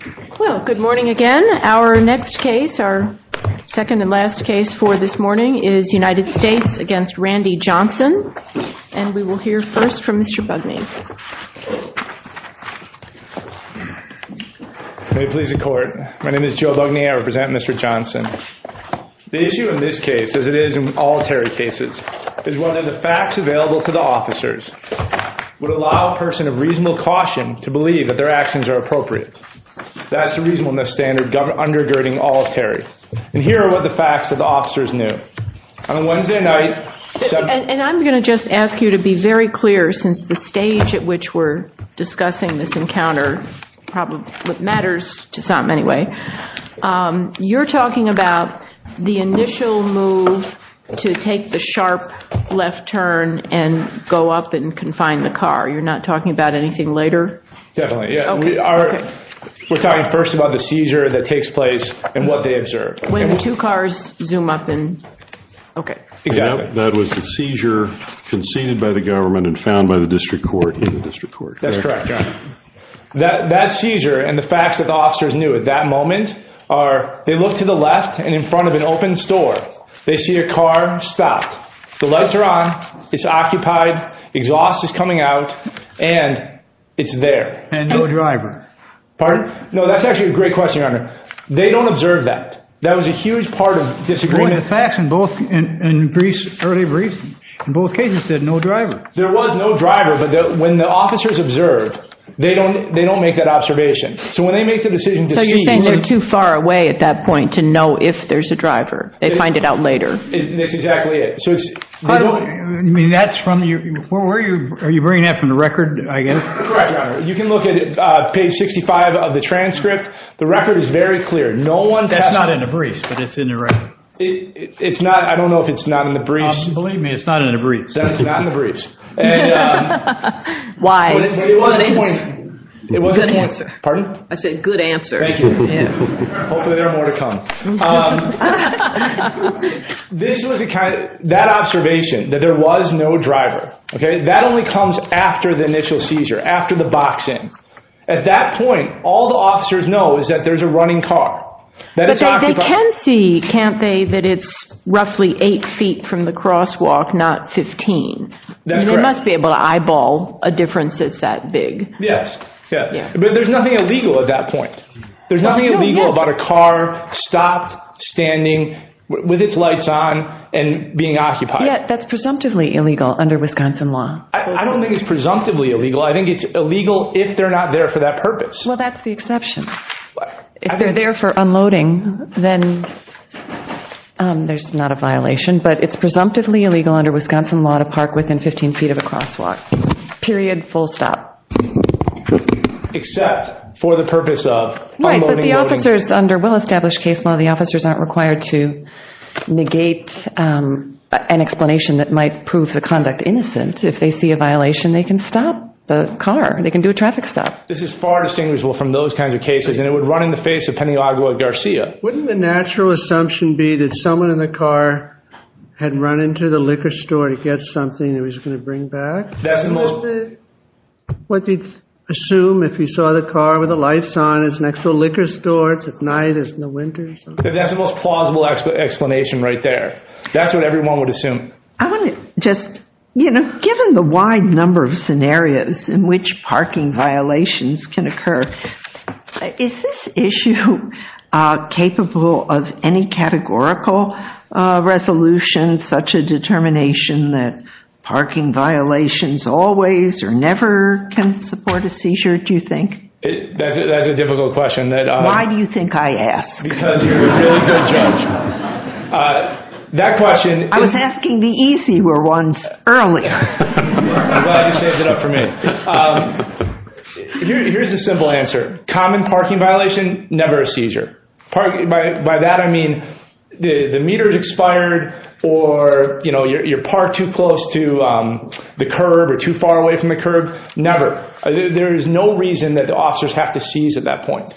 The issue in this case, as it is in all Terry cases, is whether the facts available to the officers would allow a person of reasonable caution to believe that their actions are appropriate. That's a reasonableness standard undergirding all of Terry. And here are what the facts that the officers knew. On Wednesday night... And I'm going to just ask you to be very clear since the stage at which we're discussing this encounter probably matters to some anyway. You're talking about the initial move to take the sharp left turn and go up and confine the car. You're not talking about anything later? Definitely. We're talking first about the seizure that takes place and what they observed. That was the seizure conceded by the government and found by the district court. That's correct. That seizure and the facts that the officers knew at that moment are they look to the left and in front of an open store they see a car stopped. The lights are on, it's occupied, exhaust is coming out and it's there. And no driver. No, that's actually a great question. They don't observe that. That was a huge part of disagreeing. The facts in both cases said no driver. There was no driver, but when the officers observed, they don't make that observation. So when they make the decision to see... So you're saying they're too far away at that point to know if there's a driver. They find it out later. That's exactly it. Are you bringing that from the record, I guess? You can look at page 65 of the transcript. The record is very clear. That's not in the briefs, but it's in the record. I don't know if it's not in the briefs. Believe me, it's not in the briefs. That's not in the briefs. Why? Good answer. Pardon? I said good answer. Thank you. Hopefully there are more to come. That observation, that there was no driver, that only comes after the initial seizure, after the box-in. At that point, all the officers know is that there's a running car. But they can see, can't they, that it's roughly eight feet from the crosswalk, not 15. They must be able to eyeball a difference that's that big. Yes. But there's nothing illegal at that point. There's nothing illegal about a car stopped, standing, with its lights on, and being occupied. That's presumptively illegal under Wisconsin law. I don't think it's presumptively illegal. I think it's illegal if they're not there for that purpose. Well, that's the exception. If they're there for unloading, then there's not a violation. But it's presumptively illegal under Wisconsin law to park within 15 feet of a crosswalk. Period. Full stop. Except for the purpose of unloading and loading. Right. But the officers under well-established case law, the officers aren't required to negate an explanation that might prove the conduct innocent. If they see a violation, they can stop the car. They can do a traffic stop. This is far distinguishable from those kinds of cases. And it would run in the face of Pena Agua Garcia. Wouldn't the natural assumption be that someone in the car had run into the liquor store to get something and was going to bring back? Would they assume if you saw the car with the lights on, it's next to a liquor store, it's at night, it's in the winter? That's the most plausible explanation right there. That's what everyone would assume. I want to just, you know, given the wide number of scenarios in which parking violations can occur, Is this issue capable of any categorical resolution, such a determination that parking violations always or never can support a seizure, do you think? That's a difficult question. Why do you think I asked? Because you're a really good judge. I was asking the easier ones earlier. I'm glad you saved it up for me. Here's the simple answer. Common parking violation, never a seizure. By that I mean the meter is expired or, you know, you're parked too close to the curb or too far away from the curb. Never. There is no reason that the officers have to seize at that point.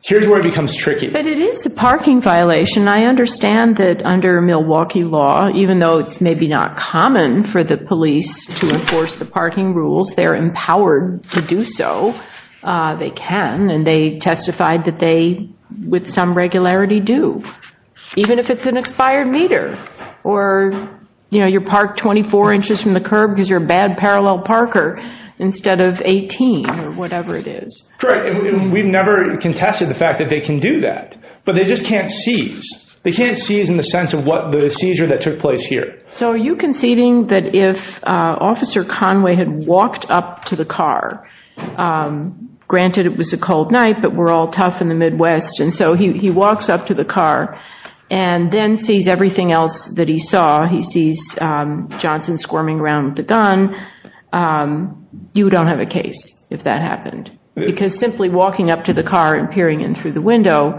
Here's where it becomes tricky. But it is a parking violation. I understand that under Milwaukee law, even though it's maybe not common for the police to enforce the parking rules, they're empowered to do so. They can. And they testified that they, with some regularity, do. Even if it's an expired meter or, you know, you're parked 24 inches from the curb because you're a bad parallel parker instead of 18 or whatever it is. Correct. We've never contested the fact that they can do that. But they just can't seize. They can't seize in the sense of the seizure that took place here. So are you conceding that if Officer Conway had walked up to the car, granted it was a cold night but we're all tough in the Midwest, and so he walks up to the car and then sees everything else that he saw. He sees Johnson squirming around with a gun. You don't have a case if that happened. Because simply walking up to the car and peering in through the window,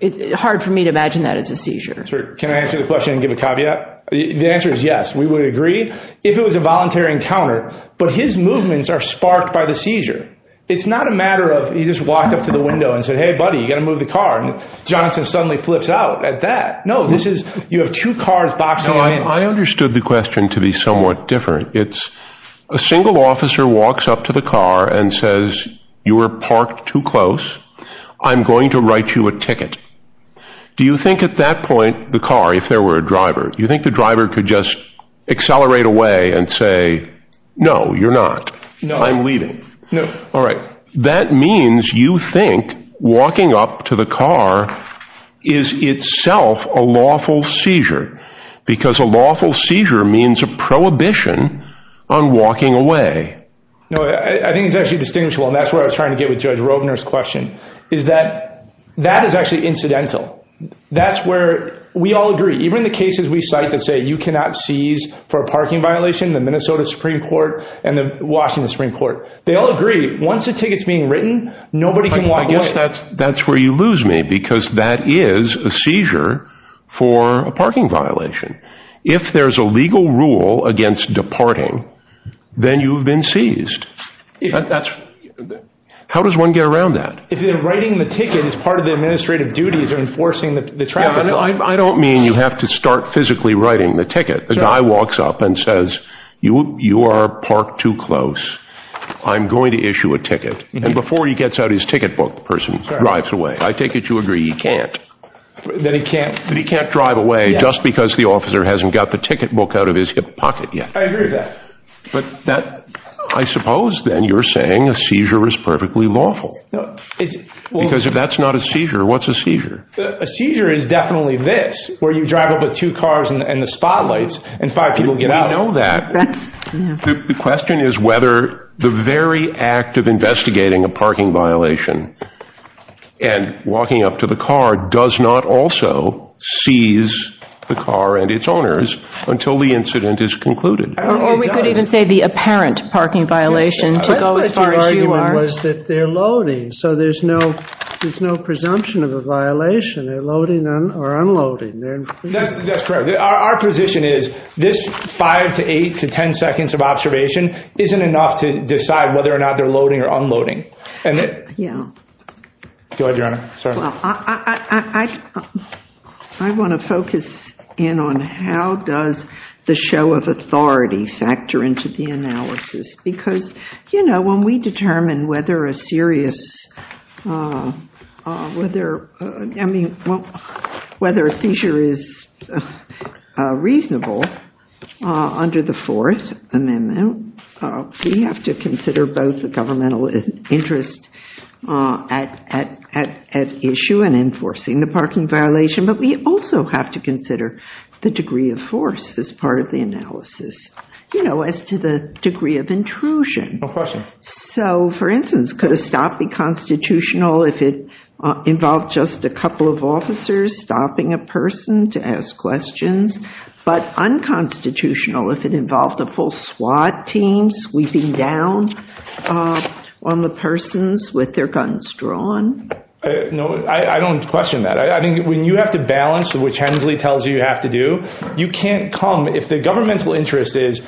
it's hard for me to imagine that as a seizure. Can I answer the question and give a caveat? The answer is yes. We would agree if it was a voluntary encounter. But his movements are sparked by the seizure. It's not a matter of he just walked up to the window and said, hey, buddy, you got to move the car. And Johnson suddenly flips out at that. No, this is you have two cars boxing. I understood the question to be somewhat different. It's a single officer walks up to the car and says, you were parked too close. I'm going to write you a ticket. Do you think at that point the car, if there were a driver, do you think the driver could just accelerate away and say, no, you're not. No, I'm leaving. No. All right. That means you think walking up to the car is itself a lawful seizure. Because a lawful seizure means a prohibition on walking away. No, I think it's actually distinguishable, and that's where I was trying to get with Judge Robner's question, is that that is actually incidental. That's where we all agree. Even the cases we cite that say you cannot seize for a parking violation, the Minnesota Supreme Court and the Washington Supreme Court. They all agree. Once a ticket's being written, nobody can walk away. I guess that's where you lose me, because that is a seizure for a parking violation. If there's a legal rule against departing, then you've been seized. How does one get around that? If writing the ticket is part of the administrative duties of enforcing the traffic. I don't mean you have to start physically writing the ticket. The guy walks up and says, you are parked too close. I'm going to issue a ticket. And before he gets out his ticket book, the person drives away. I take it you agree he can't. That he can't? That he can't drive away just because the officer hasn't got the ticket book out of his hip pocket yet. I agree with that. I suppose, then, you're saying a seizure is perfectly lawful. Because if that's not a seizure, what's a seizure? A seizure is definitely this, where you drive up with two cars and the spotlights, and five people get out. We know that. The question is whether the very act of investigating a parking violation and walking up to the car does not also seize the car and its owners until the incident is concluded. Or we could even say the apparent parking violation. They're loading. So there's no presumption of a violation. They're loading or unloading. That's correct. Our position is this five to eight to ten seconds of observation isn't enough to decide whether or not they're loading or unloading. Go ahead, Your Honor. I want to focus in on how does the show of authority factor into the analysis? Because, you know, when we determine whether a seizure is reasonable under the Fourth Amendment, we have to consider both the governmental interest at issue in enforcing the parking violation, but we also have to consider the degree of force as part of the analysis, you know, as to the degree of intrusion. No question. So, for instance, could a stop be constitutional if it involved just a couple of officers stopping a person to ask questions? But unconstitutional if it involved a full SWAT team sweeping down on the persons with their guns drawn? No, I don't question that. I think when you have to balance, which Hensley tells you you have to do, you can't come. If the governmental interest is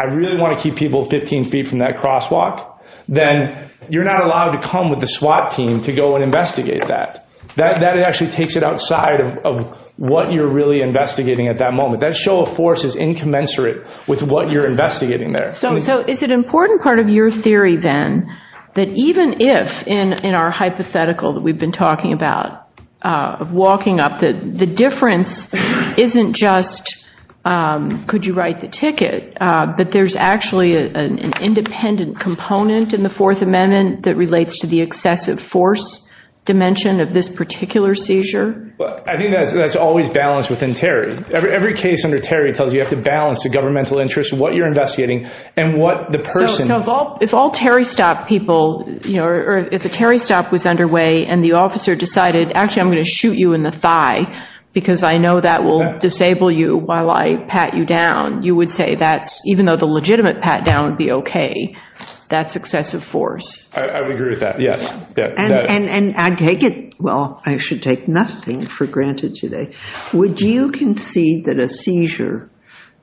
I really want to keep people 15 feet from that crosswalk, then you're not allowed to come with the SWAT team to go and investigate that. That actually takes it outside of what you're really investigating at that moment. That show of force is incommensurate with what you're investigating there. So it's an important part of your theory then that even if in our hypothetical that we've been talking about, walking up the difference isn't just could you write the ticket, but there's actually an independent component in the Fourth Amendment that relates to the excessive force dimension of this particular seizure. I think that's always balanced within Terry. Every case under Terry tells you you have to balance the governmental interest, what you're investigating, and what the person. If all Terry stop people, or if a Terry stop was underway and the officer decided, actually I'm going to shoot you in the thigh because I know that will disable you while I pat you down, you would say that even though the legitimate pat down would be okay, that's excessive force. I would agree with that, yes. And I take it, well, I should take nothing for granted today. Would you concede that a seizure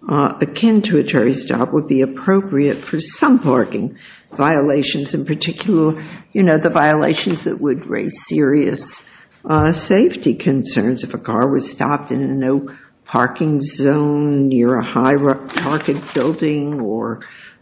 akin to a Terry stop would be appropriate for some parking violations, in particular the violations that would raise serious safety concerns if a car was stopped in a no parking zone near a high parking building or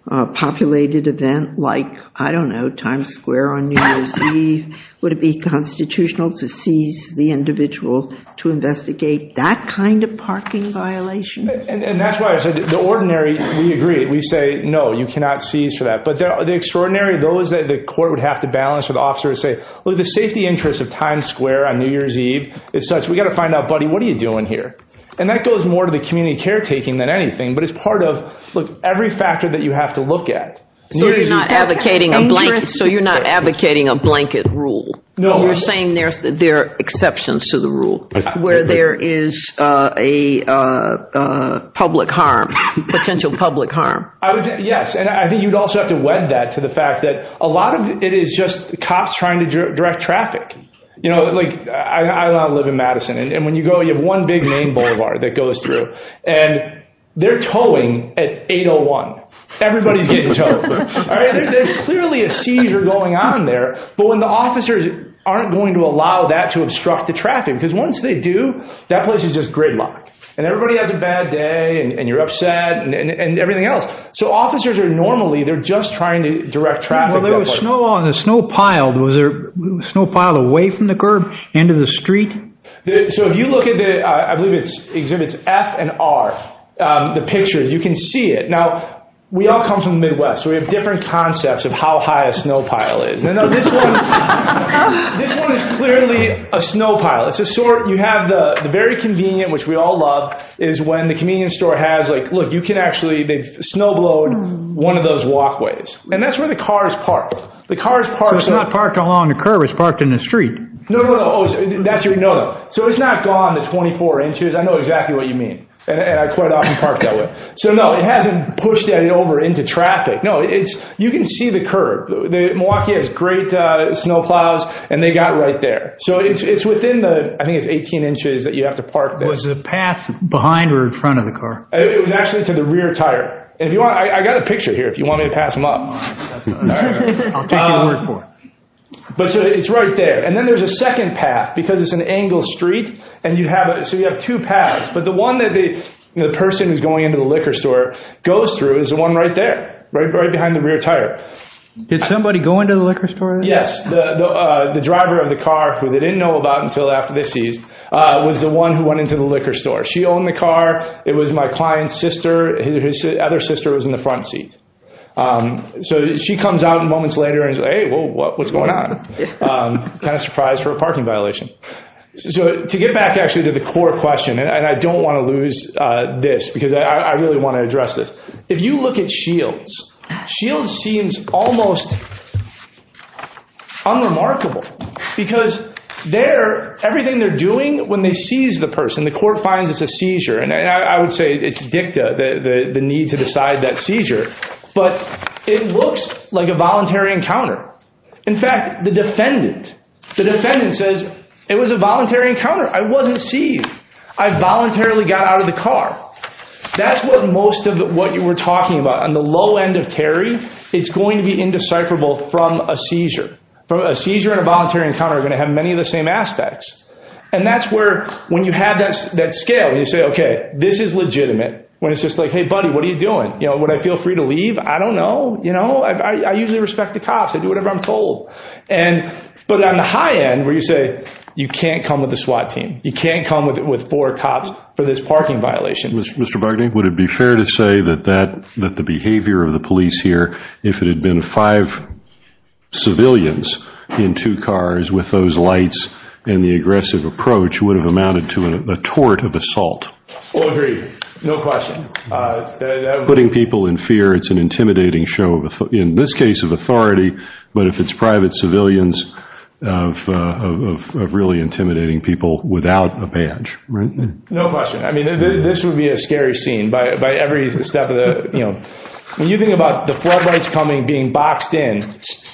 populated event like, I don't know, Times Square on New Year's Eve? Would it be constitutional to seize the individual to investigate that kind of parking violation? And that's why I said the ordinary, we agree, we say no, you cannot seize for that. But the extraordinary, the court would have to balance with the officer and say, look, the safety interest of Times Square on New Year's Eve, we've got to find out, buddy, what are you doing here? And that goes more to the community caretaking than anything, but it's part of every factor that you have to look at. So you're not advocating a blanket rule? No. You're saying there are exceptions to the rule where there is a public harm, potential public harm? Yes. And I think you'd also have to wed that to the fact that a lot of it is just cops trying to direct traffic. You know, like, I live in Madison, and when you go, you have one big main boulevard that goes through. And they're towing at 801. Everybody's getting towed. There's clearly a seizure going on there. But when the officers aren't going to allow that to obstruct the traffic, because once they do, that place is just gridlocked. And everybody has a bad day, and you're upset, and everything else. So officers are normally, they're just trying to direct traffic. Well, there was snow, and the snow piled. Was there snow piled away from the curb, into the street? So if you look at the, I believe it exhibits F and R, the pictures, you can see it. Now, we all come from the Midwest, so we have different concepts of how high a snow pile is. This one is clearly a snow pile. It's a sort, you have the very convenient, which we all love, is when the convenience store has, like, look, you can actually, they've snowblown one of those walkways. And that's where the car is parked. The car is parked. It's not parked along the curb. It's parked in the street. No, no, no. So it's not gone to 24 inches. I know exactly what you mean. And I quite often park that way. So, no, it hasn't pushed that over into traffic. No, it's, you can see the curb. Milwaukee has great snow piles, and they got right there. So it's within the, I think it's 18 inches that you have to park there. Was the path behind or in front of the car? It was actually to the rear tire. If you want, I got a picture here, if you want me to pass them up. I'm looking for it. But it's right there. And then there's a second path, because it's an angled street, and you have, so you have two paths. But the one that the person who's going into the liquor store goes through is the one right there, right behind the rear tire. Did somebody go into the liquor store? Yes. The driver of the car, who they didn't know about until after this, was the one who went into the liquor store. She owned the car. It was my client's sister. His other sister was in the front seat. So she comes out moments later and says, hey, what's going on? Kind of surprised for a parking violation. So to get back actually to the core question, and I don't want to lose this, because I really want to address this. If you look at Shields, Shields seems almost unremarkable. Because everything they're doing, when they seize the person, the court finds it's a seizure. And I would say it's dicta, the need to decide that seizure. But it looks like a voluntary encounter. In fact, the defendant, the defendant says, it was a voluntary encounter. I wasn't seized. I voluntarily got out of the car. That's what most of what we're talking about. On the low end of Terry, it's going to be indecipherable from a seizure. A seizure and a voluntary encounter are going to have many of the same aspects. And that's where, when you have that scale, you say, okay, this is legitimate. When it's just like, hey, buddy, what are you doing? Would I feel free to leave? I don't know. I usually respect the cops. I do whatever I'm told. But on the high end, where you say, you can't come with a SWAT team. You can't come with four cops for this parking violation. Mr. Barney, would it be fair to say that the behavior of the police here, if it had been five civilians in two cars with those lights and the aggressive approach, would have amounted to a tort of assault? Oh, agreed. No question. Putting people in fear, it's an intimidating show of, in this case, of authority. But if it's private civilians, of really intimidating people without a badge. Right? No question. I mean, this would be a scary scene by every step of the, you know. When you think about the flood lights coming, being boxed in,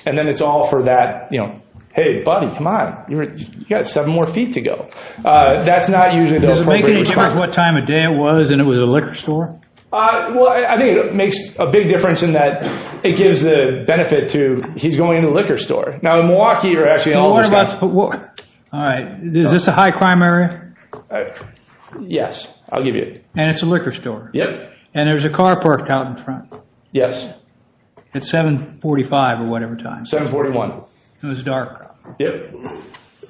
and then it's all for that, you know, hey, buddy, come on. You've got seven more feet to go. Does it make any difference what time of day it was and it was a liquor store? Well, I think it makes a big difference in that it gives the benefit to, he's going to the liquor store. Now, in Milwaukee, you're actually all the time. All right. Is this the high crime area? Yes. I'll give you it. And it's a liquor store. Yep. And there's a car parked out in front. Yes. At 745 or whatever time. 741. So it was dark. Yep.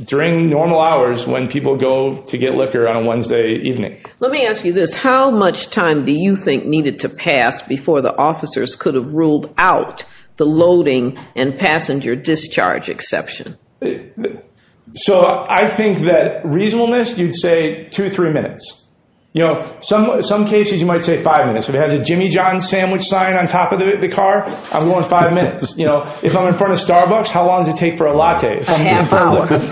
During normal hours when people go to get liquor on a Wednesday evening. Okay. Let me ask you this. How much time do you think needed to pass before the officers could have ruled out the loading and passenger discharge exception? So I think that reasonableness, you'd say two or three minutes. You know, some cases you might say five minutes. If it has a Jimmy John's sandwich sign on top of the car, I'm going five minutes. You know, if I'm in front of Starbucks, how long does it take for a latte? Half an hour. And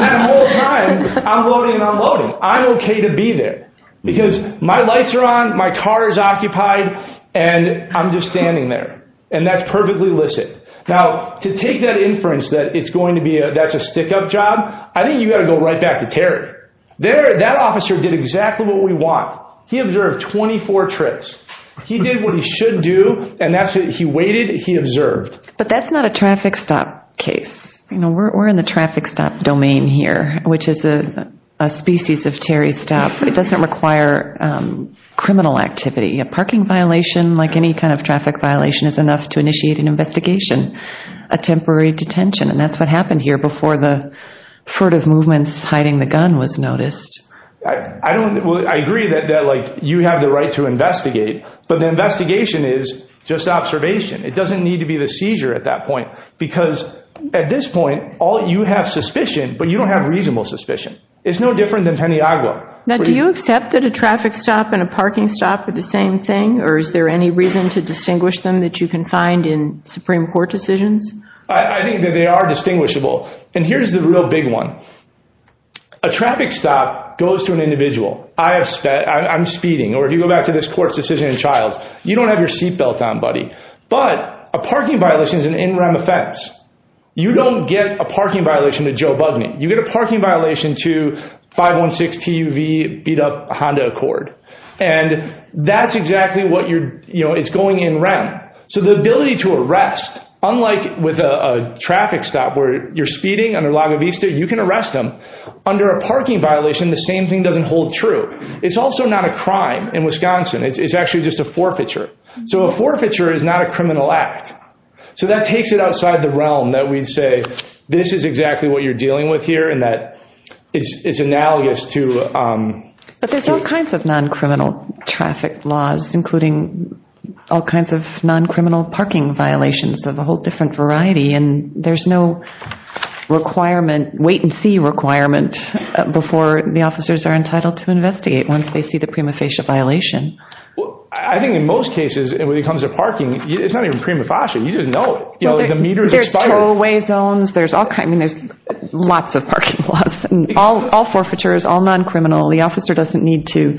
that whole time, unloading and unloading. I'm okay to be there. Because my lights are on, my car is occupied, and I'm just standing there. And that's perfectly illicit. Now, to take that inference that it's going to be a, that's a stick-up job, I think you've got to go right back to Terry. There, that officer did exactly what we want. He observed 24 trips. He did what he should do, and that's what he waited, he observed. But that's not a traffic stop case. You know, we're in the traffic stop domain here, which is a species of Terry stop. It doesn't require criminal activity. A parking violation, like any kind of traffic violation, is enough to initiate an investigation, a temporary detention. And that's what happened here before the sort of movements hiding the gun was noticed. I agree that, like, you have the right to investigate, but the investigation is just observation. It doesn't need to be the seizure at that point. Because at this point, all you have is suspicion, but you don't have reasonable suspicion. It's no different than Santiago. Now, do you accept that a traffic stop and a parking stop are the same thing, or is there any reason to distinguish them that you can find in Supreme Court decisions? I think that they are distinguishable. And here's the real big one. A traffic stop goes to an individual. I am speeding. Or if you go back to this court's decision in Childs, you don't have your seat taken. But a parking violation is an in-rem offense. You don't get a parking violation to Joe Budman. You get a parking violation to 516 TUV beat-up Honda Accord. And that's exactly what you're, you know, it's going in-rem. So the ability to arrest, unlike with a traffic stop where you're speeding under La Vista, you can arrest them. Under a parking violation, the same thing doesn't hold true. It's also not a crime in Wisconsin. It's actually just a forfeiture. So a forfeiture is not a criminal act. So that takes it outside the realm that we'd say this is exactly what you're dealing with here and that it's analogous to. But there's all kinds of non-criminal traffic laws, including all kinds of non-criminal parking violations. There's a whole different variety. And there's no requirement, wait-and-see requirement, before the officers are entitled to investigate once they see the prima facie violation. I think in most cases, when it comes to parking, it's not even prima facie. We just know. You know, the meter's expired. There's throwaway zones. I mean, there's lots of parking laws. All forfeitures, all non-criminal. The officer doesn't need to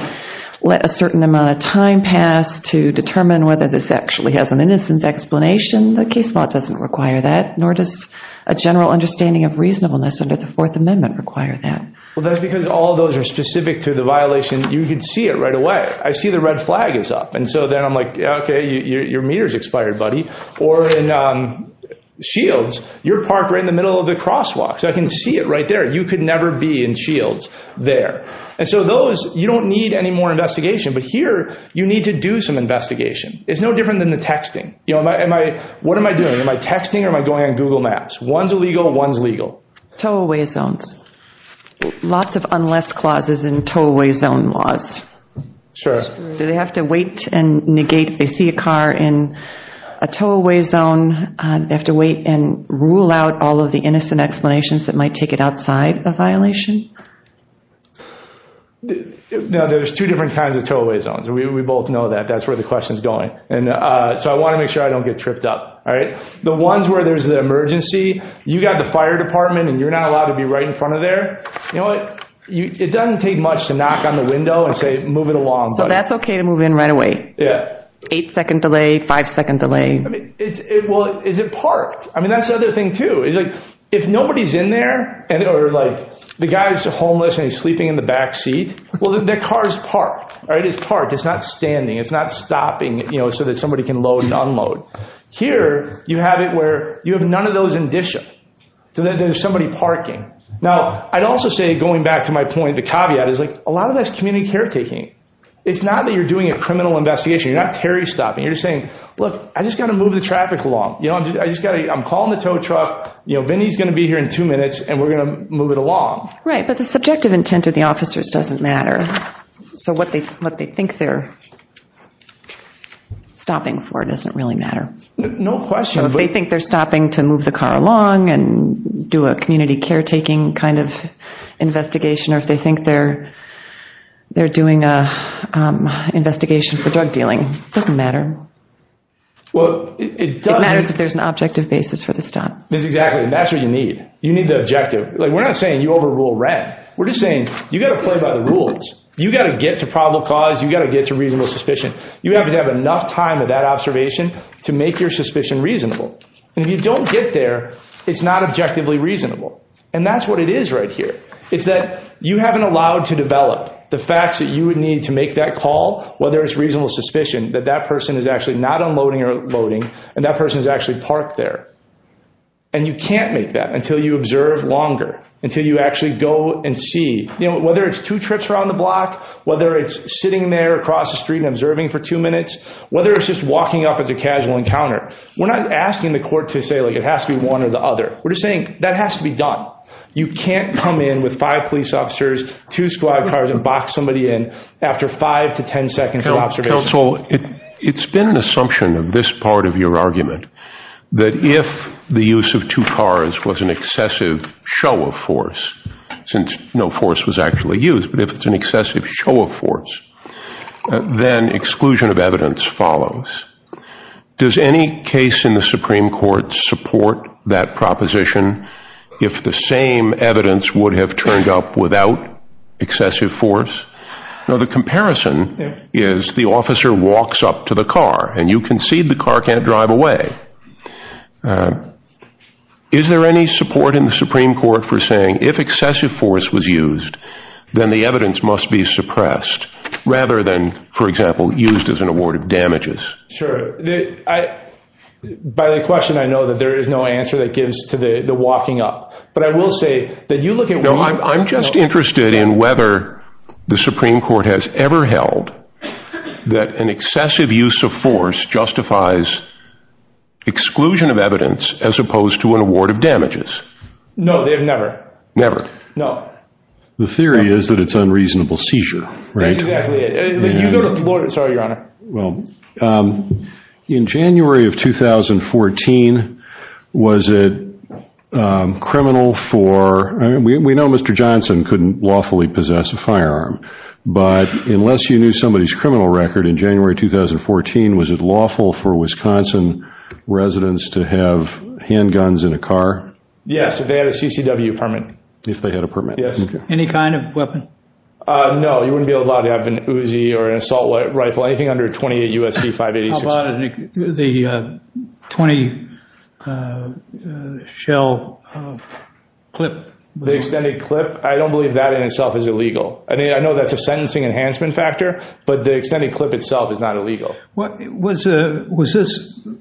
let a certain amount of time pass to determine whether this actually has an innocence explanation. The case law doesn't require that, nor does a general understanding of reasonableness under the Fourth Amendment require that. Well, that's because all those are specific to the violation. You can see it right away. I see the red flag is up. And so then I'm like, okay, your meter's expired, buddy. Or in Shields, you're parked right in the middle of the crosswalk. So I can see it right there. You could never be in Shields there. And so those, you don't need any more investigation. But here, you need to do some investigation. It's no different than the texting. What am I doing? Am I texting or am I going on Google Maps? One's illegal and one's legal. Throwaway zones. Lots of unless clauses in throwaway zone laws. Sure. Do they have to wait and negate, if they see a car in a throwaway zone, they have to wait and rule out all of the innocent explanations that might take it outside the violation? No, there's two different kinds of throwaway zones. We both know that. That's where the question's going. So I want to make sure I don't get tripped up. The ones where there's an emergency, you've got the fire department, and you're not allowed to be right in front of there. You know what? It doesn't take much to knock on the window and say, move it along. That's okay to move in right away. Yeah. Eight-second delay, five-second delay. Well, is it parked? I mean, that's the other thing, too. If nobody's in there, or the guy's homeless and he's sleeping in the backseat, well, the car is parked. It's parked. It's not standing. It's not stopping so that somebody can load and unload. Here, you have it where you have none of those indicia. There's somebody parking. Now, I'd also say, going back to my point, the caveat is, a lot of that's community caretaking. It's not that you're doing a criminal investigation. You're not Terry stopping. You're saying, look, I just got to move the traffic along. I'm calling the tow truck. Vinnie's going to be here in two minutes, and we're going to move it along. Right, but the subjective intent of the officers doesn't matter. So what they think they're stopping for doesn't really matter. No question. So if they think they're stopping to move the car along and do a community caretaking kind of investigation, or if they think they're doing an investigation for drug dealing, it doesn't matter. It matters if there's an objective basis for the stop. Exactly, and that's what you need. You need the objective. We're not saying you overrule RAP. We're just saying you've got to play by the rules. You've got to get to probable cause. You've got to get to reasonable suspicion. You have to have enough time of that observation to make your suspicion reasonable. And if you don't get there, it's not objectively reasonable. And that's what it is right here, is that you haven't allowed to develop the facts that you would need to make that call, whether it's reasonable suspicion, that that person is actually not unloading or loading, and that person is actually parked there. And you can't make that until you observe longer, until you actually go and see. Whether it's two trips around the block, whether it's sitting there across the street and observing for two minutes, whether it's just walking up as a casual encounter. We're not asking the court to say, like, it has to be one or the other. We're just saying that has to be done. You can't come in with five police officers, two squad cars and box somebody in after five to 10 seconds of observation. Counsel, it's been an assumption of this part of your argument, that if the use of two cars was an excessive show of force, since no force was actually used, if it's an excessive show of force, then exclusion of evidence follows. Does any case in the Supreme Court support that proposition if the same evidence would have turned up without excessive force? Now, the comparison is the officer walks up to the car, and you concede the car can't drive away. Is there any support in the Supreme Court for saying if excessive force was used, that the evidence must be suppressed, rather than, for example, used as an award of damages? Sure. By the question, I know that there is no answer that gives to the walking up. But I will say that you look at... No, I'm just interested in whether the Supreme Court has ever held that an excessive use of force justifies exclusion of evidence as opposed to an award of damages. No, they've never. Never. No. The theory is that it's unreasonable seizure, right? Exactly. Sorry, Your Honor. Well, in January of 2014, was it criminal for... We know Mr. Johnson couldn't lawfully possess a firearm. But unless you knew somebody's criminal record in January 2014, Yes, if they had a CCW permit. If they had a permit. Yes. Any kind of weapon? No, you wouldn't be allowed to have an Uzi or an assault rifle, anything under 28 U.S.C. 586. How about the 20-shell clip? The extended clip? I don't believe that in itself is illegal. I mean, I know that's a sentencing enhancement factor, but the extended clip itself is not illegal. Was this,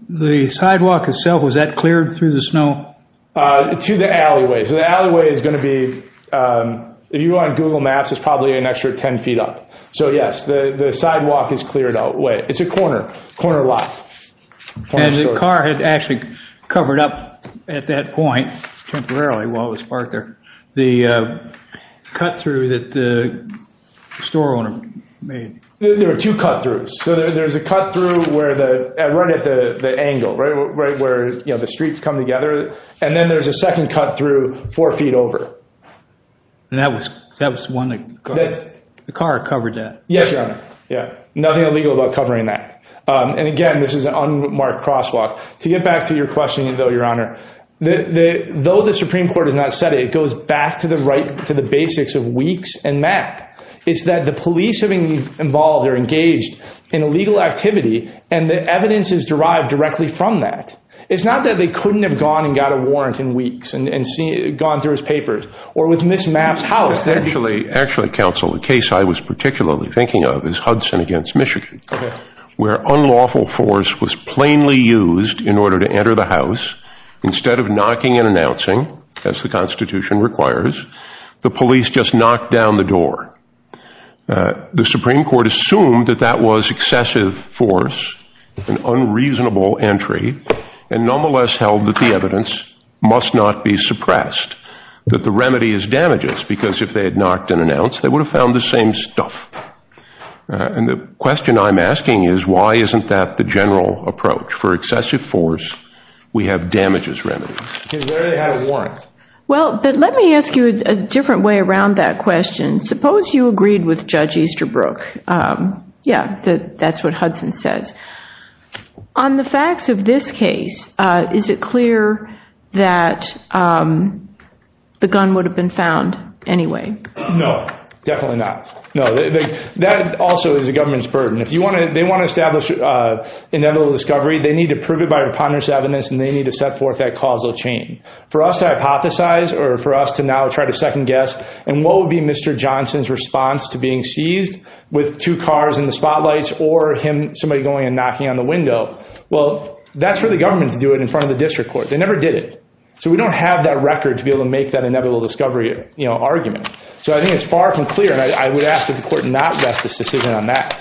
the sidewalk itself, was that cleared through the snow? To the alleyway. So the alleyway is going to be, if you go on Google Maps, it's probably an extra 10 feet up. So, yes, the sidewalk is cleared out. It's a corner, corner lot. And the car had actually covered up at that point, temporarily, while it was parked there, the cut-through that the store owner made. There were two cut-throughs. So there's a cut-through at one of the angles, right, where the streets come together. And then there's a second cut-through four feet over. And that was one that the car covered that. Yes, Your Honor. Yeah. Nothing illegal about covering that. And, again, this is an unmarked crosswalk. To get back to your question, though, Your Honor, though the Supreme Court has not said it, it goes back to the basics of weeks and that. It's that the police have been involved or engaged in illegal activity, and the evidence is derived directly from that. It's not that they couldn't have gone and got a warrant in weeks and gone through his papers. Or with Ms. Mapp's house. Actually, counsel, the case I was particularly thinking of is Hudson against Michigan, where unlawful force was plainly used in order to enter the house. Instead of knocking and announcing, as the Constitution requires, the police just knocked down the door. The Supreme Court assumed that that was excessive force, an unreasonable entry, and nonetheless held that the evidence must not be suppressed, that the remedy is damages, because if they had knocked and announced, they would have found the same stuff. And the question I'm asking is, why isn't that the general approach? For excessive force, we have damages remedies. Where do they have a warrant? Well, let me ask you a different way around that question. Suppose you agreed with Judge Easterbrook. Yeah, that's what Hudson said. On the facts of this case, is it clear that the gun would have been found anyway? No, definitely not. That also is the government's burden. If they want to establish inevitable discovery, they need to prove it by preponderance of evidence, and they need to set forth that causal chain. For us to hypothesize, or for us to now try to second guess, and what would be Mr. Johnson's response to being seized with two cars in the spotlights, or somebody going and knocking on the window, well, that's where the government would do it, in front of the district court. They never did it. So we don't have that record to be able to make that inevitable discovery argument. So I think it's far from clear, and I would ask that the court not rest its decision on that.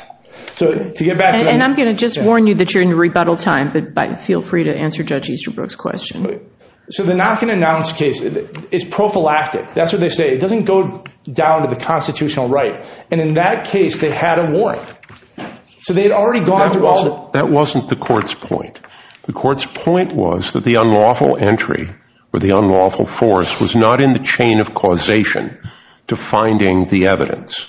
And I'm going to just warn you that you're in rebuttal time, but feel free to answer Judge Easterbrook's question. So the knock-and-announce case is prophylactic. That's what they say. It doesn't go down to the constitutional right. And in that case, they had a warrant. So they'd already gone through all the... That wasn't the court's point. The court's point was that the unlawful entry, or the unlawful force, was not in the chain of causation to finding the evidence.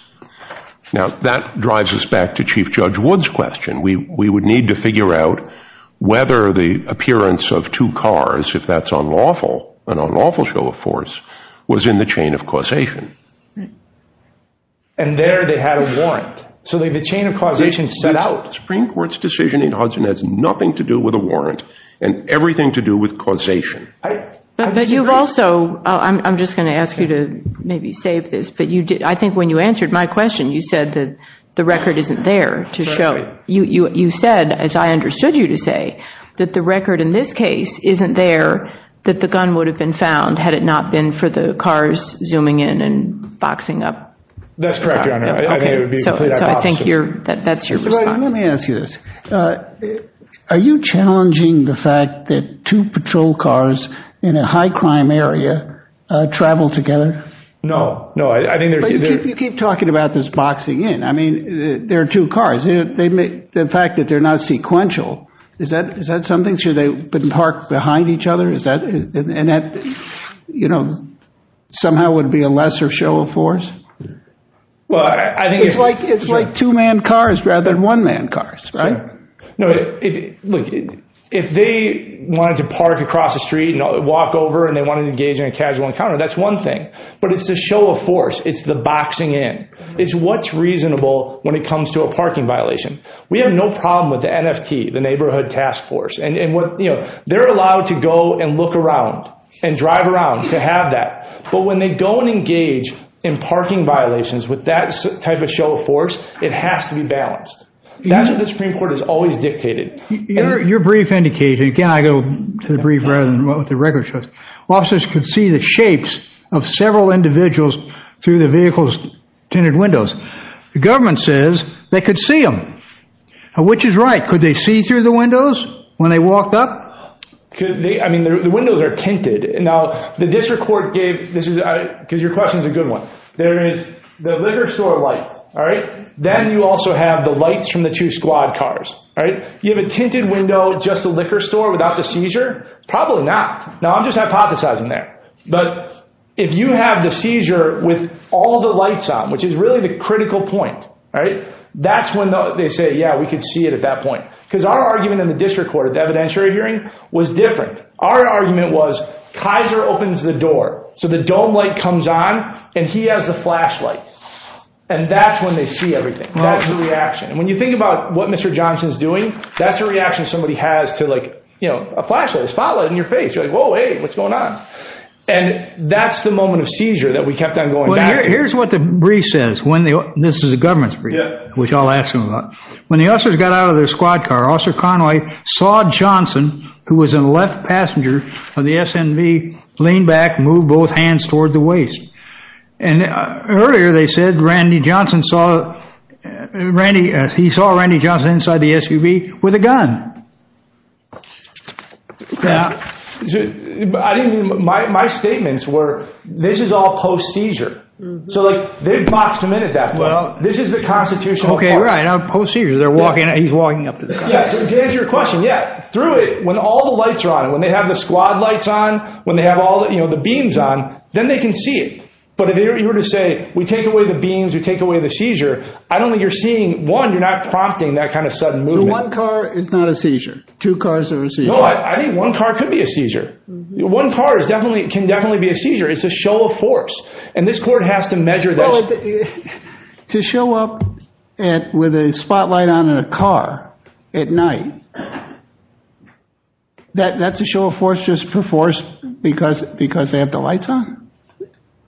Now, that drives us back to Chief Judge Wood's question. We would need to figure out whether the appearance of two cars, if that's unlawful, an unlawful show of force, was in the chain of causation. And there they had a warrant. So the chain of causation... The Supreme Court's decision in Hudson has nothing to do with a warrant and everything to do with causation. But you've also... I'm just going to ask you to maybe save this, but I think when you answered my question, you said that the record isn't there to show. You said, as I understood you to say, that the record in this case isn't there that the gun would have been found had it not been for the cars zooming in and boxing up. That's correct, Your Honor. I think it would be exactly the opposite. I think that's your response. Let me ask you this. Are you challenging the fact that two patrol cars in a high-crime area travel together? No. You keep talking about this boxing in. There are two cars. The fact that they're not sequential, is that something? Should they park behind each other? Somehow would it be a lesser show of force? Well, I think... It's like two-man cars rather than one-man cars, right? No. Look, if they wanted to park across the street and walk over, and they wanted to engage in a casual encounter, that's one thing. But it's a show of force. It's the boxing in. It's what's reasonable when it comes to a parking violation. We have no problem with the NFP, the Neighborhood Task Force. And they're allowed to go and look around and drive around to have that. But when they don't engage in parking violations with that type of show of force, it has to be balanced. That's what the Supreme Court has always dictated. Your brief indicates... Again, I go to the brief rather than what the record shows. Officers could see the shapes of several individuals through the vehicle's tinted windows. The government says they could see them, which is right. Could they see through the windows when they walked up? I mean, the windows are tinted. Now, the district court gave... Because your question is a good one. There is the liquor store light, all right? Then you also have the lights from the two squad cars, all right? You have a tinted window at just the liquor store without the seizure? Probably not. Now, I'm just hypothesizing there. But if you have the seizure with all the lights on, which is really the critical point, all right? That's when they say, yeah, we could see it at that point. Because our argument in the district court, the evidentiary hearing, was different. Our argument was Kaiser opens the door, so the dome light comes on, and he has the flashlight. And that's when they see everything. That's the reaction. And when you think about what Mr. Johnson is doing, that's a reaction somebody has to, like, you know, a flashlight. Spotlight in your face. You're like, whoa, hey, what's going on? And that's the moment of seizure that we kept on going back. Well, here's what the brief says. This is a government brief, which I'll ask him about. When the officers got out of their squad car, Officer Conway saw Johnson, who was a left passenger of the SMV, lean back and move both hands toward the waist. And earlier they said Randy Johnson saw... He saw Randy Johnson inside the SUV with a gun. My statements were, this is all post-seizure. So, like, they boxed him in at that point. This is the constitutional... Okay, right. Post-seizure. He's walking up to them. To answer your question, yeah, through it, when all the lights are on, when they have the squad lights on, when they have all the, you know, the beams on, then they can see it. But if you were to say, we take away the beams, we take away the seizure, I don't think you're seeing, one, you're not prompting that kind of sudden movement. One car is not a seizure. Two cars are a seizure. Well, I mean, one car could be a seizure. One car is definitely, can definitely be a seizure. It's a show of force. And this court has to measure those. Well, to show up with a spotlight on a car at night, that's a show of force just for force because they have the lights on?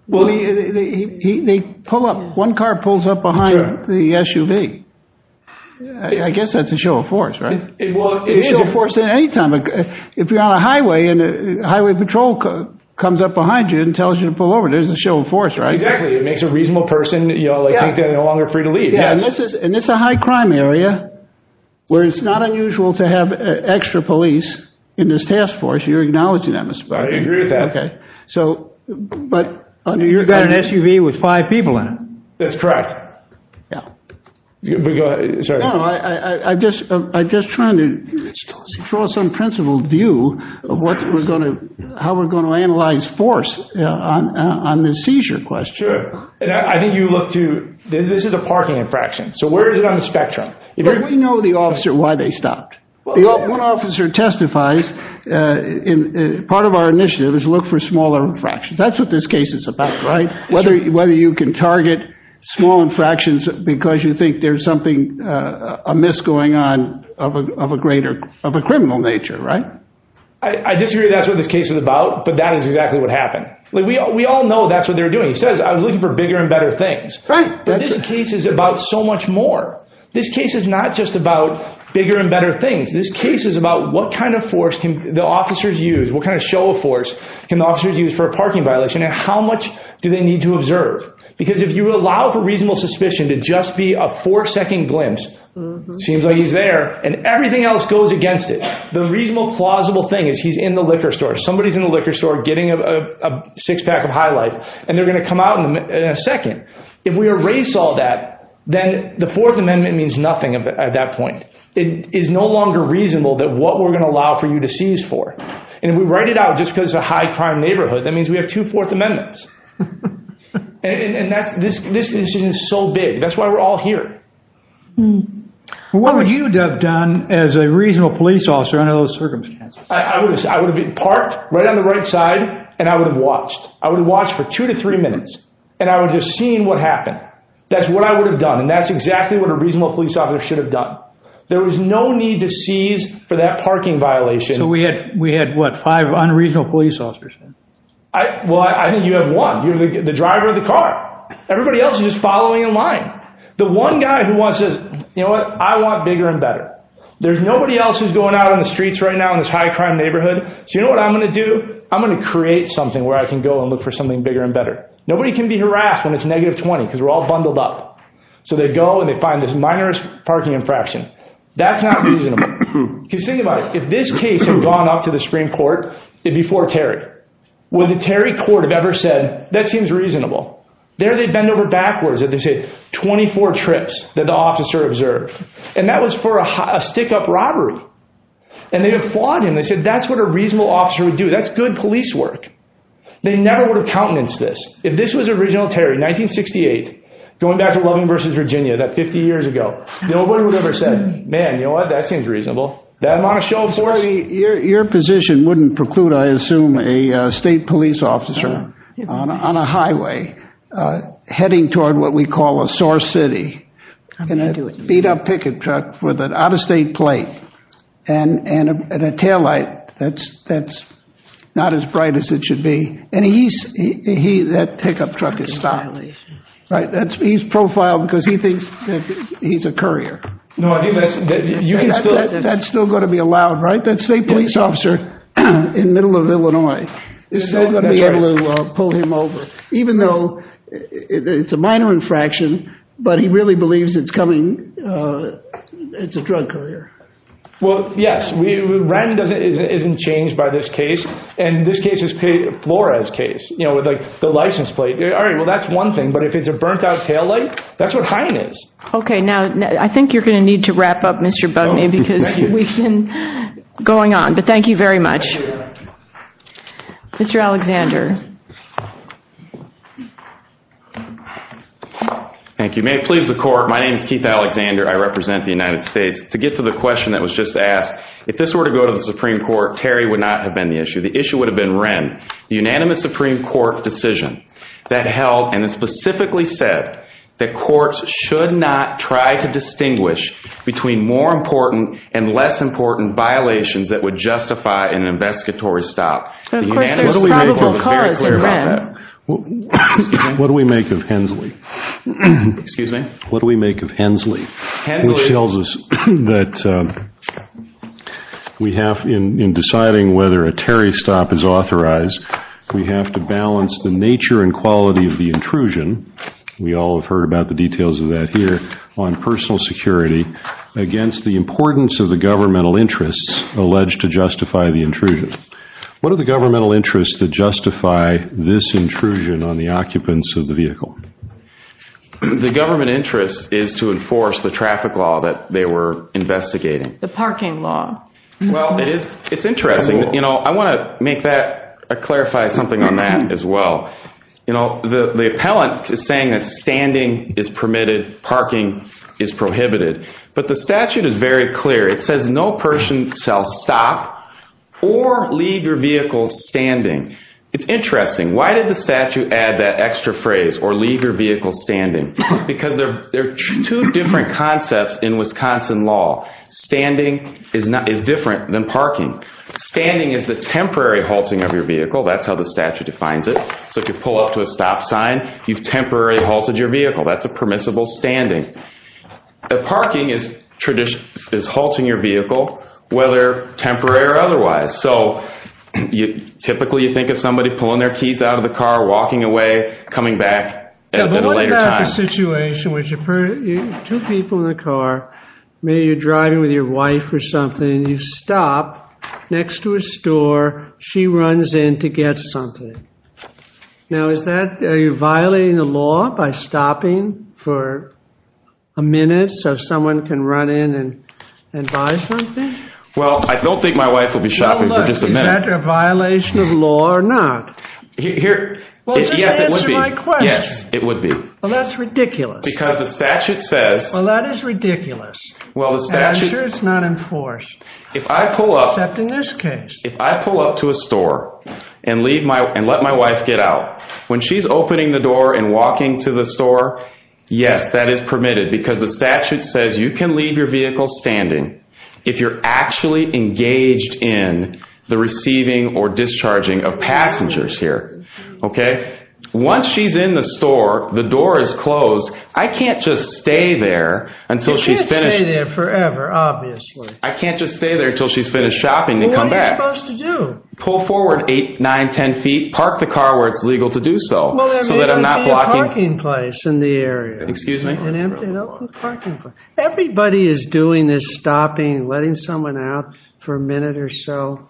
Well, they pull up, one car pulls up behind the SUV. I guess that's a show of force, right? It's a show of force at any time. If you're on a highway and the highway patrol comes up behind you and tells you to pull over, there's a show of force, right? Exactly. It makes a reasonable person think they're no longer free to leave. And it's a high crime area where it's not unusual to have extra police in this task force. You're acknowledging that. I agree with that. But you've got an SUV with five people in it. That's correct. I'm just trying to draw some principled view of how we're going to analyze force on this seizure question. Sure. I think you look to, this is a parking infraction. So where is it on the spectrum? We know the officer why they stopped. One officer testifies, part of our initiative is look for smaller infractions. That's what this case is about, right? Whether you can target small infractions because you think there's something amiss going on of a criminal nature, right? I disagree that's what this case is about. But that is exactly what happened. We all know that's what they're doing. It says I'm looking for bigger and better things. But this case is about so much more. This case is not just about bigger and better things. This case is about what kind of force can the officers use, what kind of show of force can the officers use for a parking violation and how much do they need to observe. Because if you allow for reasonable suspicion to just be a four-second glimpse, seems like he's there, and everything else goes against it, the reasonable plausible thing is he's in the liquor store, somebody's in the liquor store getting a six-pack of High Light, and they're going to come out in a second. If we erase all that, then the Fourth Amendment means nothing at that point. It is no longer reasonable that what we're going to allow for you to seize for. And if we write it out just because it's a high crime neighborhood, that means we have two Fourth Amendments. And this incident is so big. That's why we're all here. What would you have done as a reasonable police officer under those circumstances? I would have been parked right on the right side, and I would have watched. I would have watched for two to three minutes, and I would have just seen what happened. That's what I would have done, and that's exactly what a reasonable police officer should have done. There was no need to seize for that parking violation. So we had, what, five unreasonable police officers? Well, I think you had one. You're the driver of the car. Everybody else is just following in line. The one guy who wants to – you know what? I want bigger and better. There's nobody else who's going out on the streets right now in this high crime neighborhood. Do you know what I'm going to do? I'm going to create something where I can go and look for something bigger and better. Nobody can be harassed when it's negative 20 because we're all bundled up. So they go and they find this minor parking infraction. That's not reasonable. Because think about it. If this case had gone up to the Supreme Court before Terry, would the Terry court have ever said, that seems reasonable? There they'd bend over backwards if they said 24 trips that the officer observed, and that was for a stick-up robbery. And they'd have flawed him. They said that's what a reasonable officer would do. That's good police work. They never would have countenanced this. If this was original Terry, 1968, going back to Loving v. Virginia, that's 50 years ago, nobody would have ever said, man, you know what, that seems reasonable. Your position wouldn't preclude, I assume, a state police officer on a highway, heading toward what we call a sore city, in a beat-up picket truck with an out-of-state plate and a taillight that's not as bright as it should be. And that pick-up truck is stylish. He's profiled because he thinks he's a courier. That's still going to be allowed, right? That state police officer in the middle of Illinois. They're still going to be able to pull him over, even though it's a minor infraction, but he really believes it's a drug courier. Well, yes. Brandon isn't changed by this case. And this case is Flora's case, with the license plate. All right, well, that's one thing. But if it's a burnt-out taillight, that's what hiring is. Okay, now, I think you're going to need to wrap up, Mr. Bugney, because we've been going on. But thank you very much. Mr. Alexander. Thank you. May it please the Court, my name is Keith Alexander. I represent the United States. To get to the question that was just asked, if this were to go to the Supreme Court, Terry would not have been the issue. The issue would have been Wren. The unanimous Supreme Court decision that held, and it specifically said, that courts should not try to distinguish between more important and less important violations that would justify an investigatory stop. What do we make of Hensley? What do we make of Hensley? Hensley tells us that we have, in deciding whether a Terry stop is authorized, we have to balance the nature and quality of the intrusion, we all have heard about the details of that here, on personal security, against the importance of the governmental interests alleged to justify the intrusion. What are the governmental interests that justify this intrusion on the occupants of the vehicle? The government interest is to enforce the traffic law that they were investigating. The parking law. Well, it's interesting. I want to clarify something on that as well. The appellant is saying that standing is permitted, parking is prohibited. But the statute is very clear. It says, no person shall stop or leave your vehicle standing. It's interesting. Why did the statute add that extra phrase, or leave your vehicle standing? Because there are two different concepts in Wisconsin law. Standing is different than parking. Standing is the temporary halting of your vehicle. That's how the statute defines it. So if you pull up to a stop sign, you've temporarily halted your vehicle. That's a permissible standing. But parking is halting your vehicle, whether temporary or otherwise. So typically you think of somebody pulling their teeth out of the car, walking away, coming back at a later time. But what about the situation where two people in the car, maybe you're driving with your wife or something, and you stop next to a store, she runs in to get something. Now, are you violating the law by stopping for a minute so someone can run in and buy something? Well, I don't think my wife would be stopping for just a minute. Is that a violation of law or not? Yes, it would be. Well, that's ridiculous. Because the statute says. Well, that is ridiculous. I'm sure it's not enforced. Except in this case. If I pull up to a store and let my wife get out, when she's opening the door and walking to the store, yes, that is permitted. Because the statute says you can leave your vehicle standing if you're actually engaged in the receiving or discharging of passengers here. Okay? Once she's in the store, the door is closed. I can't just stay there until she's finished. You can't stay there forever, obviously. I can't just stay there until she's finished shopping and come back. What are you supposed to do? Pull forward 8, 9, 10 feet, park the car where it's legal to do so. There's an empty parking place in the area. Excuse me? An empty parking place. Everybody is doing this stopping, letting someone out for a minute or so.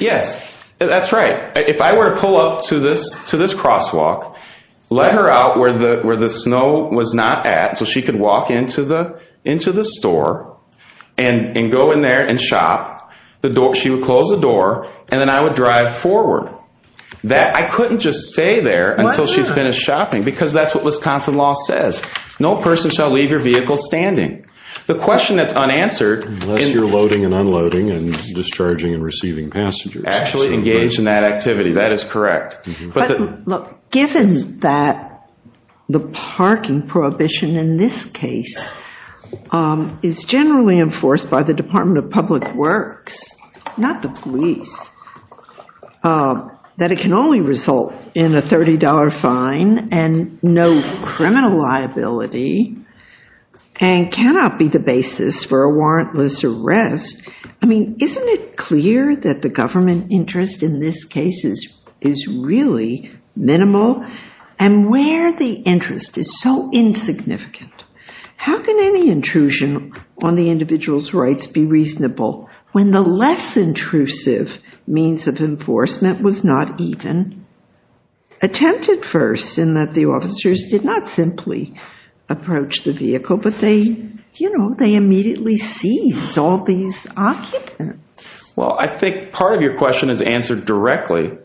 Yes. That's right. If I were to pull up to this crosswalk, let her out where the snow was not at so she could walk into the store and go in there and shop, she would close the door, and then I would drive forward. I couldn't just stay there until she finished shopping because that's what Wisconsin law says. No person shall leave your vehicle standing. The question that's unanswered. Unless you're loading and unloading and discharging and receiving passengers. Actually engaged in that activity. That is correct. Given that the parking prohibition in this case is generally enforced by the Department of Public Works, not the police, that it can only result in a $30 fine and no criminal liability and cannot be the basis for a warrantless arrest. I mean, isn't it clear that the government interest in this case is really minimal? And where the interest is so insignificant. How can any intrusion on the individual's rights be reasonable when the less intrusive means of enforcement was not even attempted first? I think part of the question is answered directly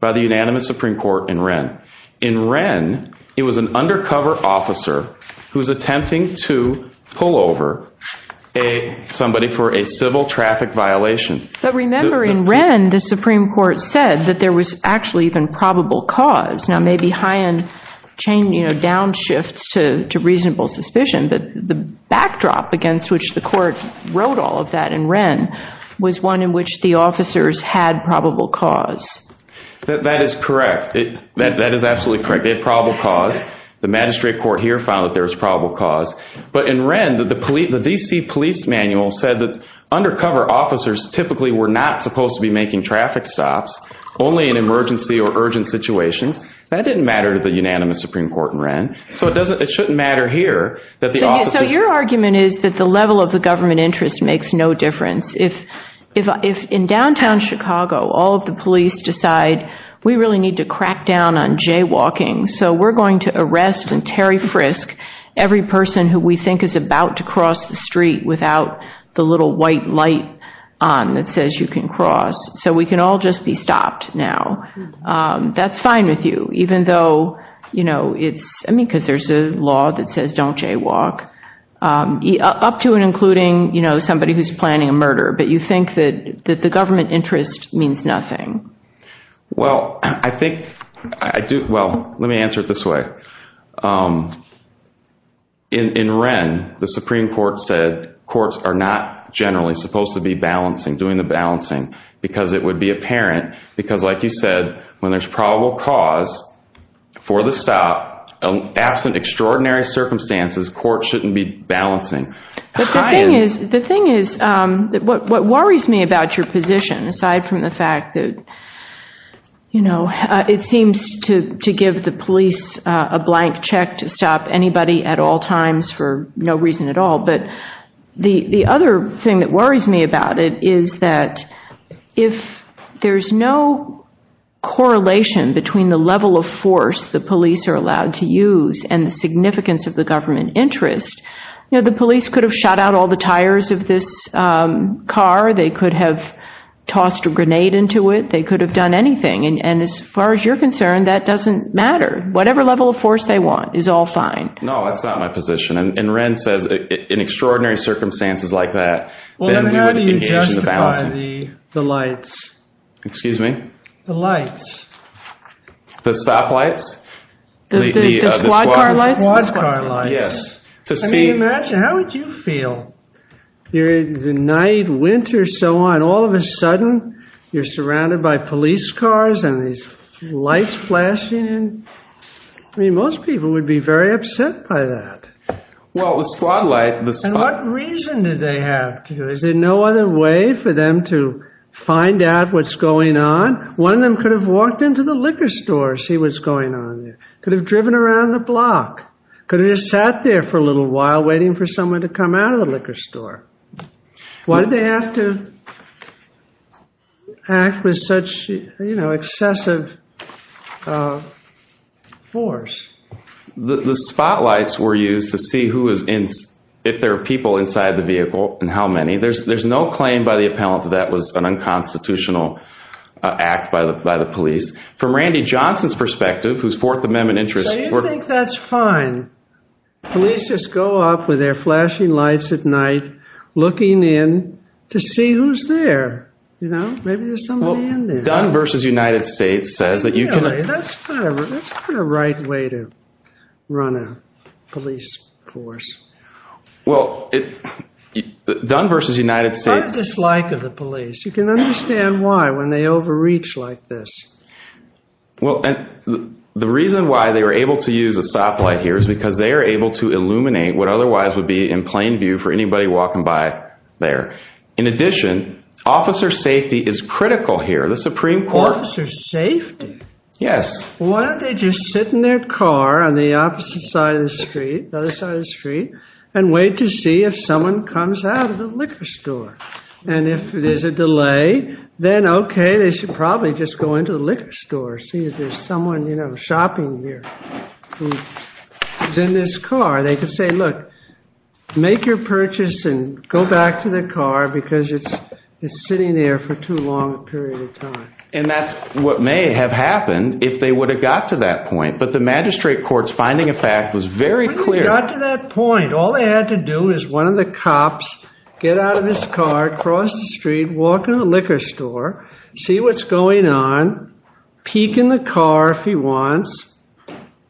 by the Unanimous Supreme Court in Wren. In Wren, it was an undercover officer who was attempting to pull over somebody for a civil traffic violation. But remember, in Wren, the Supreme Court said that there was actually even probable cause. Now, maybe high end down shifts to reasonable suspicion. But the backdrop against which the court wrote all of that in Wren was one in which the officers had probable cause. That is correct. That is absolutely correct. They had probable cause. The magistrate court here found that there was probable cause. But in Wren, the DC police manual said that undercover officers typically were not supposed to be making traffic stops only in emergency or urgent situations. That didn't matter to the Unanimous Supreme Court in Wren. So it shouldn't matter here. So your argument is that the level of the government interest makes no difference. If in downtown Chicago all of the police decide we really need to crack down on jaywalking, so we're going to arrest and Terry Frisk every person who we think is about to cross the street without the little white light on that says you can cross. So we can all just be stopped now. That's fine with you, even though, you know, because there's a law that says don't jaywalk. Up to and including, you know, somebody who's planning a murder. But you think that the government interest means nothing. Well, I think I do. Well, let me answer it this way. In Wren, the Supreme Court said courts are not generally supposed to be balancing, doing the balancing, because it would be apparent. Because like you said, when there's probable cause for the stop, absent extraordinary circumstances, courts shouldn't be balancing. The thing is, what worries me about your position, aside from the fact that, you know, it seems to give the police a blank check to stop anybody at all times for no reason at all, but the other thing that worries me about it is that if there's no correlation between the level of force the police are allowed to use and the significance of the government interest, you know, the police could have shot out all the tires of this car. They could have tossed a grenade into it. They could have done anything. And as far as you're concerned, that doesn't matter. Whatever level of force they want is all fine. No, that's not my position. And Wren says, in extraordinary circumstances like that, they don't need to engage in the balancing. Well, then how do you justify the lights? Excuse me? The lights. The stop lights? The squad car lights? The squad car lights. Yes. I mean, imagine, how would you feel? You're in the night, winter, so on, all of a sudden you're surrounded by police cars and there's lights flashing. I mean, most people would be very upset by that. Well, the squad lights, the squad cars. And what reason do they have? Is there no other way for them to find out what's going on? One of them could have walked into the liquor store, see what's going on there. Could have driven around the block. Could have just sat there for a little while waiting for someone to come out of the liquor store. Why did they have to act with such, you know, excessive force? The spotlights were used to see who was in, if there were people inside the vehicle and how many. There's no claim by the appellant that that was an unconstitutional act by the police. From Randy Johnson's perspective, whose Fourth Amendment interests. I think that's fine. Police just go off with their flashing lights at night looking in to see who's there, you know? Maybe there's somebody in there. Dunn versus United States says that you can. That's not a right way to run a police force. Well, Dunn versus United States. What's the dislike of the police? You can understand why when they overreach like this. Well, the reason why they were able to use a stoplight here is because they are able to illuminate what otherwise would be in plain view for anybody walking by there. In addition, officer safety is critical here. The Supreme Court. Officer safety? Yes. Why don't they just sit in their car on the opposite side of the street, the other side of the street, and wait to see if someone comes out of the liquor store? And if there's a delay, then okay, they should probably just go into the liquor store, see if there's someone, you know, shopping there. Who's in this car. They could say, look, make your purchase and go back to the car because it's sitting there for too long a period of time. And that's what may have happened if they would have got to that point. But the magistrate court's finding of fact was very clear. They got to that point. All they had to do was one of the cops get out of his car, cross the street, walk to the liquor store, see what's going on, peek in the car if he wants.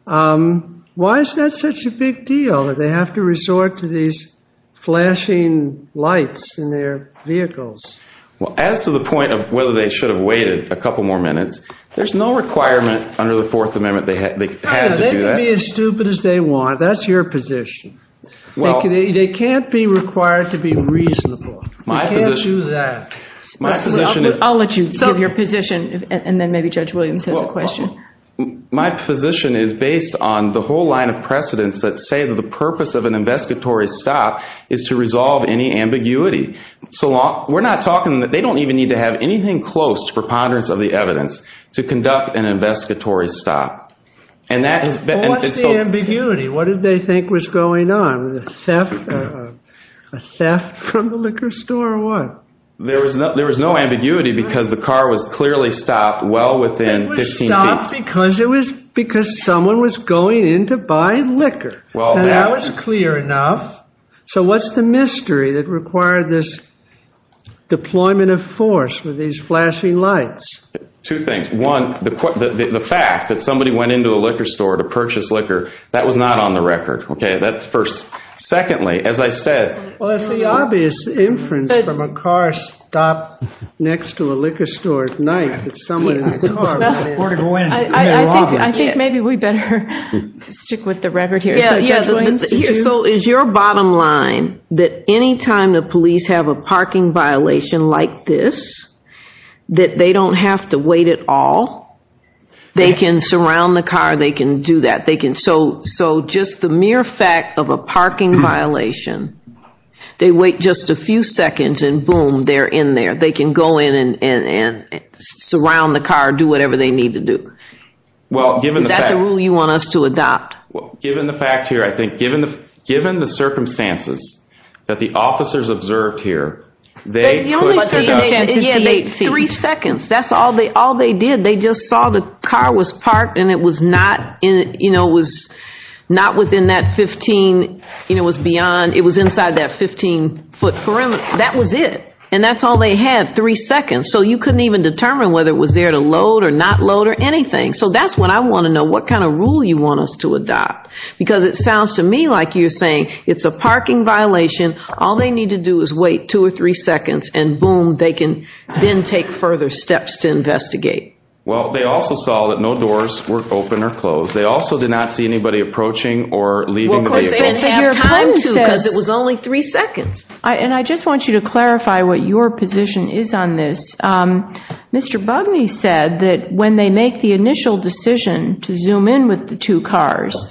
Why is that such a big deal that they have to resort to these flashing lights in their vehicles? Well, as to the point of whether they should have waited a couple more minutes, there's no requirement under the Fourth Amendment they have to do that. They can be as stupid as they want. That's your position. They can't be required to be reasonable. You can't do that. I'll let you give your position and then maybe Judge Williams has a question. My position is based on the whole line of precedence that say the purpose of an investigatory stop is to resolve any ambiguity. We're not talking that they don't even need to have anything close to preponderance of the evidence to conduct an investigatory stop. What's the ambiguity? What did they think was going on? A theft from the liquor store or what? There was no ambiguity because the car was clearly stopped well within 15 feet. It was stopped because someone was going in to buy liquor. That was clear enough. So what's the mystery that required this deployment of force with these flashing lights? Two things. One, the fact that somebody went into the liquor store to purchase liquor, that was not on the record. Okay, that's first. Secondly, as I said. Well, it's the obvious inference from a car stop next to a liquor store at night that someone in the car did it. I think maybe we better stick with the record here. So is your bottom line that any time the police have a parking violation like this, that they don't have to wait at all? They can surround the car. They can do that. So just the mere fact of a parking violation, they wait just a few seconds and boom, they're in there. They can go in and surround the car, do whatever they need to do. Is that the rule you want us to adopt? Well, given the fact here, I think, given the circumstances that the officers observed here, they could take up to 58 feet. Three seconds. That's all they did. They just saw the car was parked and it was not within that 15, it was beyond, it was inside that 15-foot perimeter. That was it. And that's all they had, three seconds. So you couldn't even determine whether it was there to load or not load or anything. So that's what I want to know. What kind of rule you want us to adopt? Because it sounds to me like you're saying it's a parking violation, all they need to do is wait two or three seconds, and boom, they can then take further steps to investigate. Well, they also saw that no doors were open or closed. They also did not see anybody approaching or leaving. Well, they didn't have time to. It was only three seconds. And I just want you to clarify what your position is on this. Mr. Bugney said that when they make the initial decision to zoom in with the two cars,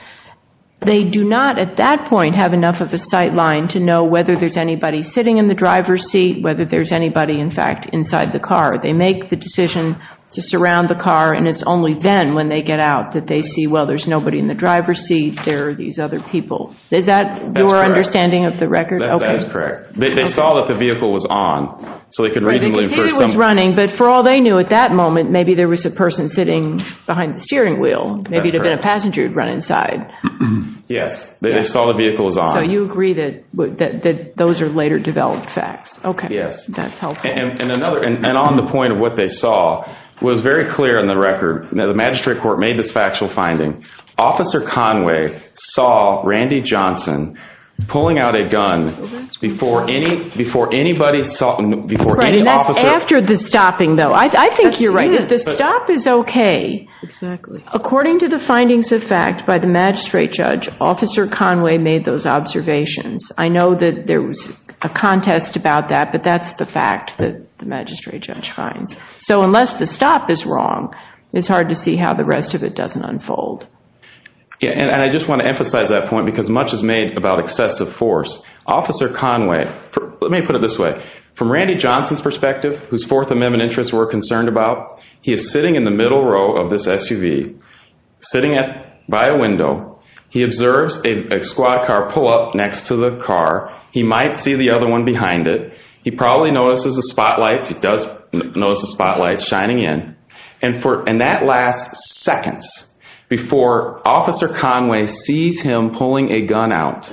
they do not at that point have enough of a sight line to know whether there's anybody sitting in the driver's seat, whether there's anybody, in fact, inside the car. They make the decision to surround the car, and it's only then when they get out that they see, well, there's nobody in the driver's seat, there are these other people. Is that your understanding of the record? That's correct. They saw that the vehicle was on. So they could reasonably assume. They could tell you it was running, but for all they knew at that moment, maybe there was a person sitting behind the steering wheel. Maybe there had been a passenger who had run inside. Yes. They saw the vehicle was on. So you agree that those are later developed facts. Okay. Yes. And on the point of what they saw, it was very clear in the record. The magistrate court made this factual finding. Officer Conway saw Randy Johnson pulling out a gun before anybody saw it, before any officer. And that's after the stopping, though. I think you're right. The stop is okay. Exactly. According to the findings of fact by the magistrate judge, Officer Conway made those observations. I know that there was a contest about that, but that's the fact that the magistrate judge found. So unless the stop is wrong, it's hard to see how the rest of it doesn't unfold. Yes. And I just want to emphasize that point because much is made about excessive force. Officer Conway, let me put it this way. From Randy Johnson's perspective, whose Fourth Amendment interests we're concerned about, he is sitting in the middle row of this SUV, sitting by a window. He observes a squad car pull up next to the car. He might see the other one behind it. He probably notices the spotlight. He does notice the spotlight shining in. And that lasts seconds before Officer Conway sees him pulling a gun out.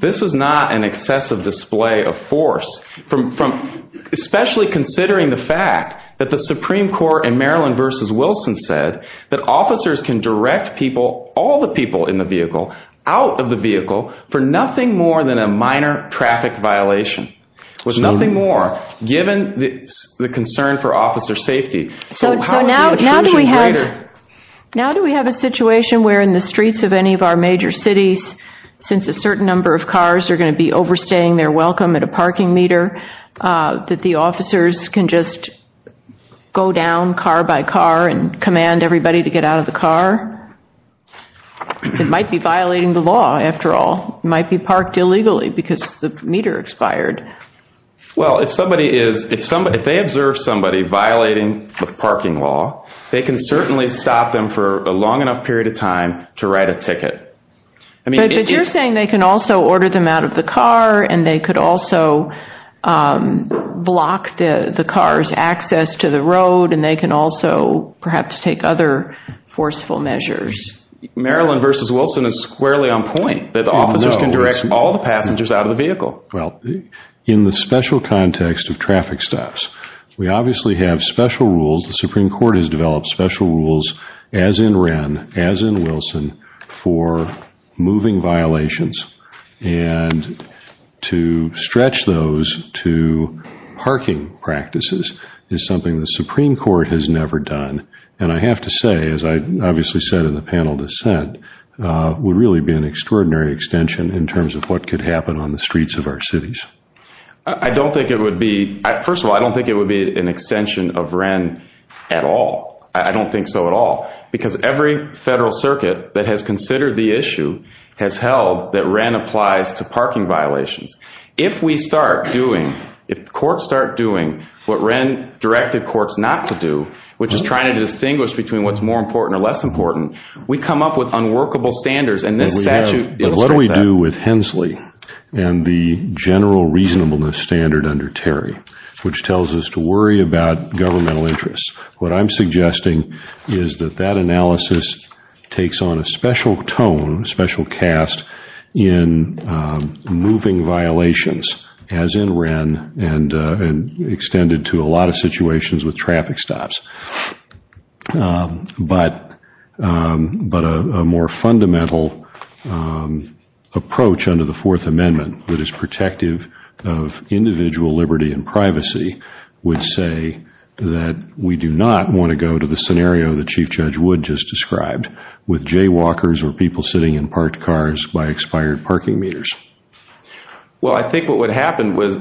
This is not an excessive display of force, especially considering the fact that the Supreme Court in Maryland v. Wilson said that officers can direct people, all the people in the vehicle, out of the vehicle for nothing more than a minor traffic violation. It was nothing more, given the concern for officer safety. So now do we have a situation where in the streets of any of our major cities, since a certain number of cars are going to be overstaying their welcome at a parking meter, that the officers can just go down car by car and command everybody to get out of the car? It might be violating the law, after all. It might be parked illegally because the meter expired. Well, if they observe somebody violating the parking law, they can certainly stop them for a long enough period of time to write a ticket. But you're saying they can also order them out of the car and they could also block the car's access to the road, and they can also perhaps take other forceful measures. Maryland v. Wilson is squarely on point that officers can direct all the passengers out of the vehicle. Well, in the special context of traffic stops, we obviously have special rules. The Supreme Court has developed special rules, as in Wren, as in Wilson, for moving violations. And to stretch those to parking practices is something the Supreme Court has never done. And I have to say, as I obviously said in the panel dissent, it would really be an extraordinary extension in terms of what could happen on the streets of our cities. First of all, I don't think it would be an extension of Wren at all. I don't think so at all. Because every federal circuit that has considered the issue has held that Wren applies to parking violations. If courts start doing what Wren directed courts not to do, which is trying to distinguish between what's more important or less important, we come up with unworkable standards. What do we do with Hensley and the general reasonableness standard under Terry, which tells us to worry about governmental interests? What I'm suggesting is that that analysis takes on a special tone, a special cast in moving violations, as in Wren, and extended to a lot of situations with traffic stops. But a more fundamental approach under the Fourth Amendment that is protective of individual liberty and privacy would say that we do not want to go to the scenario that Chief Judge Wood just described with jaywalkers or people sitting in parked cars by expired parking meters. Well, I think what would happen was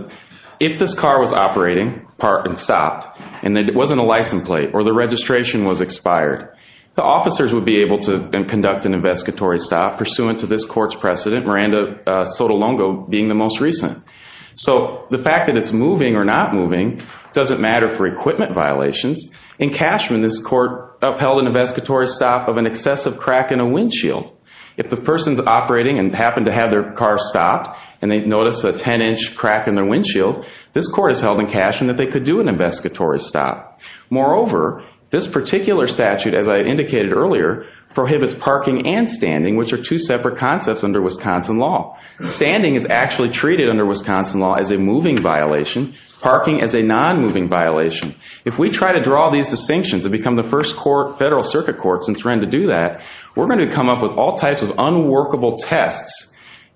if this car was operating, parked, and stopped, and it wasn't a license plate or the registration was expired, the officers would be able to conduct an investigatory stop pursuant to this court's precedent, Miranda Sotolongo being the most recent. So the fact that it's moving or not moving doesn't matter for equipment violations. In Cashman, this court upheld an investigatory stop of an excessive crack in a windshield. If the person's operating and happened to have their car stopped and they noticed a 10-inch crack in their windshield, this court has held in Cashman that they could do an investigatory stop. Moreover, this particular statute, as I indicated earlier, prohibits parking and standing, which are two separate concepts under Wisconsin law. Standing is actually treated under Wisconsin law as a moving violation. Parking is a non-moving violation. If we try to draw these distinctions and become the first federal circuit court since Wren to do that, we're going to come up with all types of unworkable tests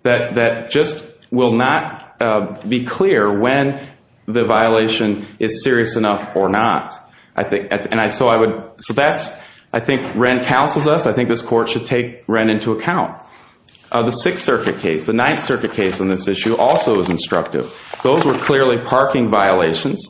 that just will not be clear when the violation is serious enough or not. So I think Wren counseled us. I think this court should take Wren into account. The Sixth Circuit case, the Ninth Circuit case on this issue, also is instructive. Those were clearly parking violations.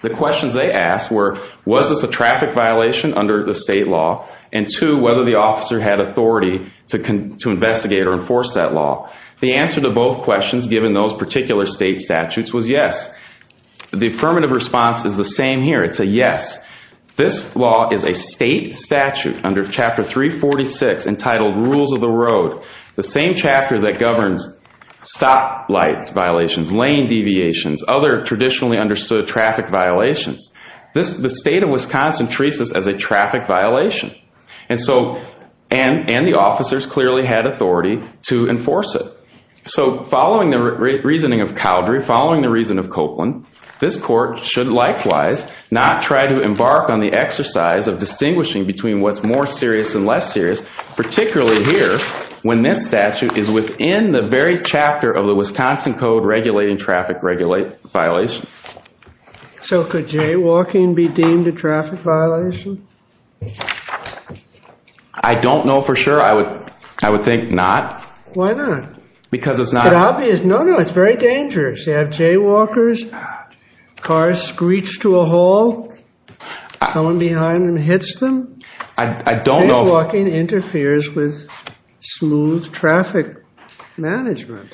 The questions they asked were, was this a traffic violation under the state law, and two, whether the officer had authority to investigate or enforce that law. The answer to both questions, given those particular state statutes, was yes. The affirmative response is the same here. It's a yes. This law is a state statute under Chapter 346 entitled Rules of the Road, the same chapter that governs stoplight violations, lane deviations, other traditionally understood traffic violations. The state of Wisconsin treats this as a traffic violation, and the officers clearly had authority to enforce it. So following the reasoning of Cowdery, following the reason of Copeland, this court should likewise not try to embark on the exercise of distinguishing between what's more serious and less serious, particularly here, when this statute is within the very chapter of the Wisconsin Code regulating traffic violations. So could jaywalking be deemed a traffic violation? I don't know for sure. I would think not. Why not? Because it's not obvious. No, no, it's very dangerous. You have jaywalkers, cars screech to a hall, going behind and hits them. I don't know. Jaywalking interferes with smooth traffic management.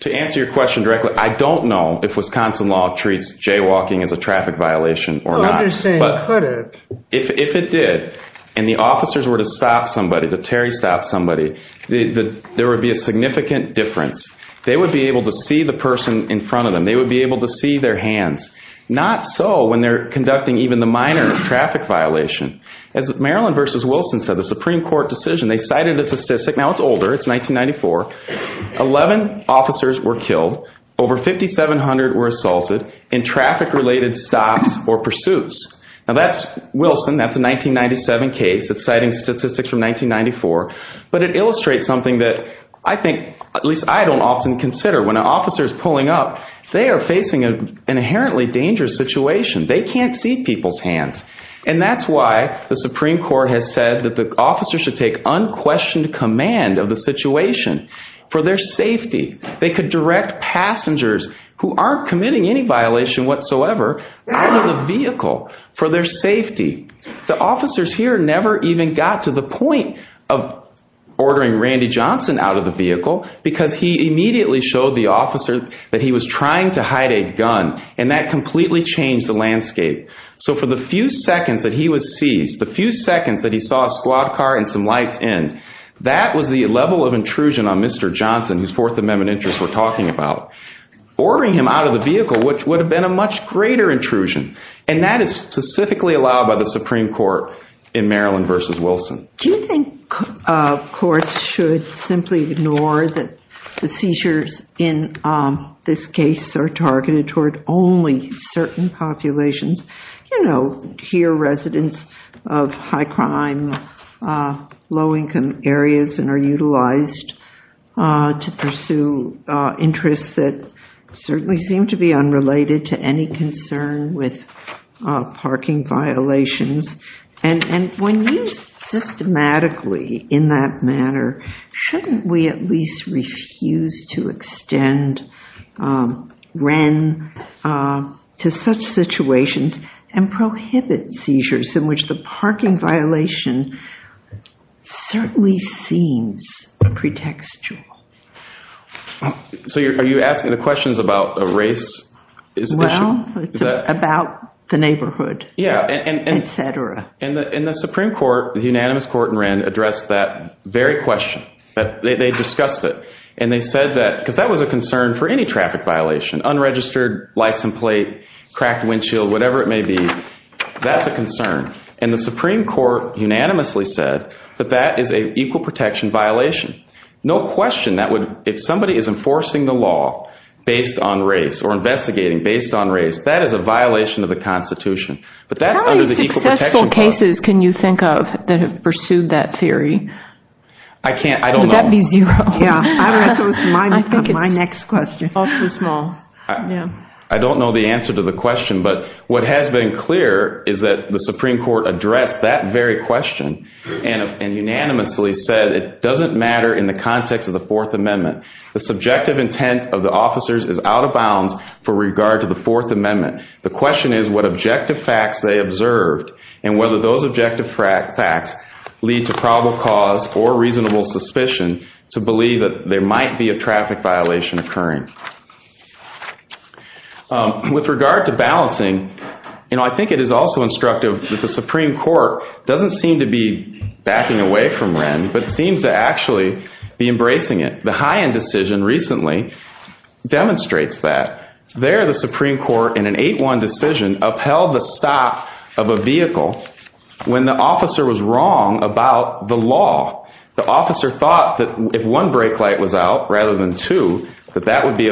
To answer your question directly, I don't know if Wisconsin law treats jaywalking as a traffic violation or not. I understand. But if it did, and the officers were to stop somebody, the Terry stopped somebody, there would be a significant difference. They would be able to see the person in front of them. They would be able to see their hands. Not so when they're conducting even the minor traffic violation. As Marilyn versus Wilson said, the Supreme Court decision, they cited this statistic. Now, it's older. It's 1994. Eleven officers were killed. Over 5,700 were assaulted in traffic-related stops or pursuits. Now, that's Wilson. That's a 1997 case. It's citing statistics from 1994. But it illustrates something that I think, at least I don't often consider. When an officer is pulling up, they are facing an inherently dangerous situation. They can't see people's hands. And that's why the Supreme Court has said that the officers should take unquestioned command of the situation for their safety. They could direct passengers who aren't committing any violation whatsoever out of the vehicle for their safety. The officers here never even got to the point of ordering Randy Johnson out of the vehicle, because he immediately showed the officers that he was trying to hide a gun. And that completely changed the landscape. So for the few seconds that he was seized, the few seconds that he saw a squad car and some lights in, that was the level of intrusion on Mr. Johnson, his Fourth Amendment interest we're talking about. Ordering him out of the vehicle would have been a much greater intrusion. And that is specifically allowed by the Supreme Court in Maryland v. Wilson. Do you think courts should simply ignore that the seizures in this case are targeted toward only certain populations? You know, here residents of high-crime, low-income areas, and are utilized to pursue interests that certainly seem to be unrelated to any concern with parking violations. And when used systematically in that manner, shouldn't we at least refuse to extend REN to such situations and prohibit seizures in which the parking violation certainly seems pretextual? So are you asking the questions about race? Well, it's about the neighborhood, et cetera. In the Supreme Court, the unanimous court in REN addressed that very question. They discussed it. And they said that, because that was a concern for any traffic violation, unregistered license plate, cracked windshield, whatever it may be, that's a concern. And the Supreme Court unanimously said that that is an equal protection violation. No question that would, if somebody is enforcing the law based on race or investigating based on race, that is a violation of the Constitution. How many successful cases can you think of that have pursued that theory? I can't, I don't know. Would that be zero? My next question. I don't know the answer to the question. But what has been clear is that the Supreme Court addressed that very question and unanimously said it doesn't matter in the context of the Fourth Amendment. The subjective intent of the officers is out of bounds for regard to the Fourth Amendment. The question is what objective facts they observed and whether those objective facts lead to probable cause or reasonable suspicion to believe that there might be a traffic violation occurring. With regard to balancing, you know, I think it is also instructive that the Supreme Court doesn't seem to be backing away from REN, but seems to actually be embracing it. The High End decision recently demonstrates that. There the Supreme Court in an 8-1 decision upheld the stop of a vehicle when the officer was wrong about the law. The officer thought that if one brake light was out rather than two, that that would be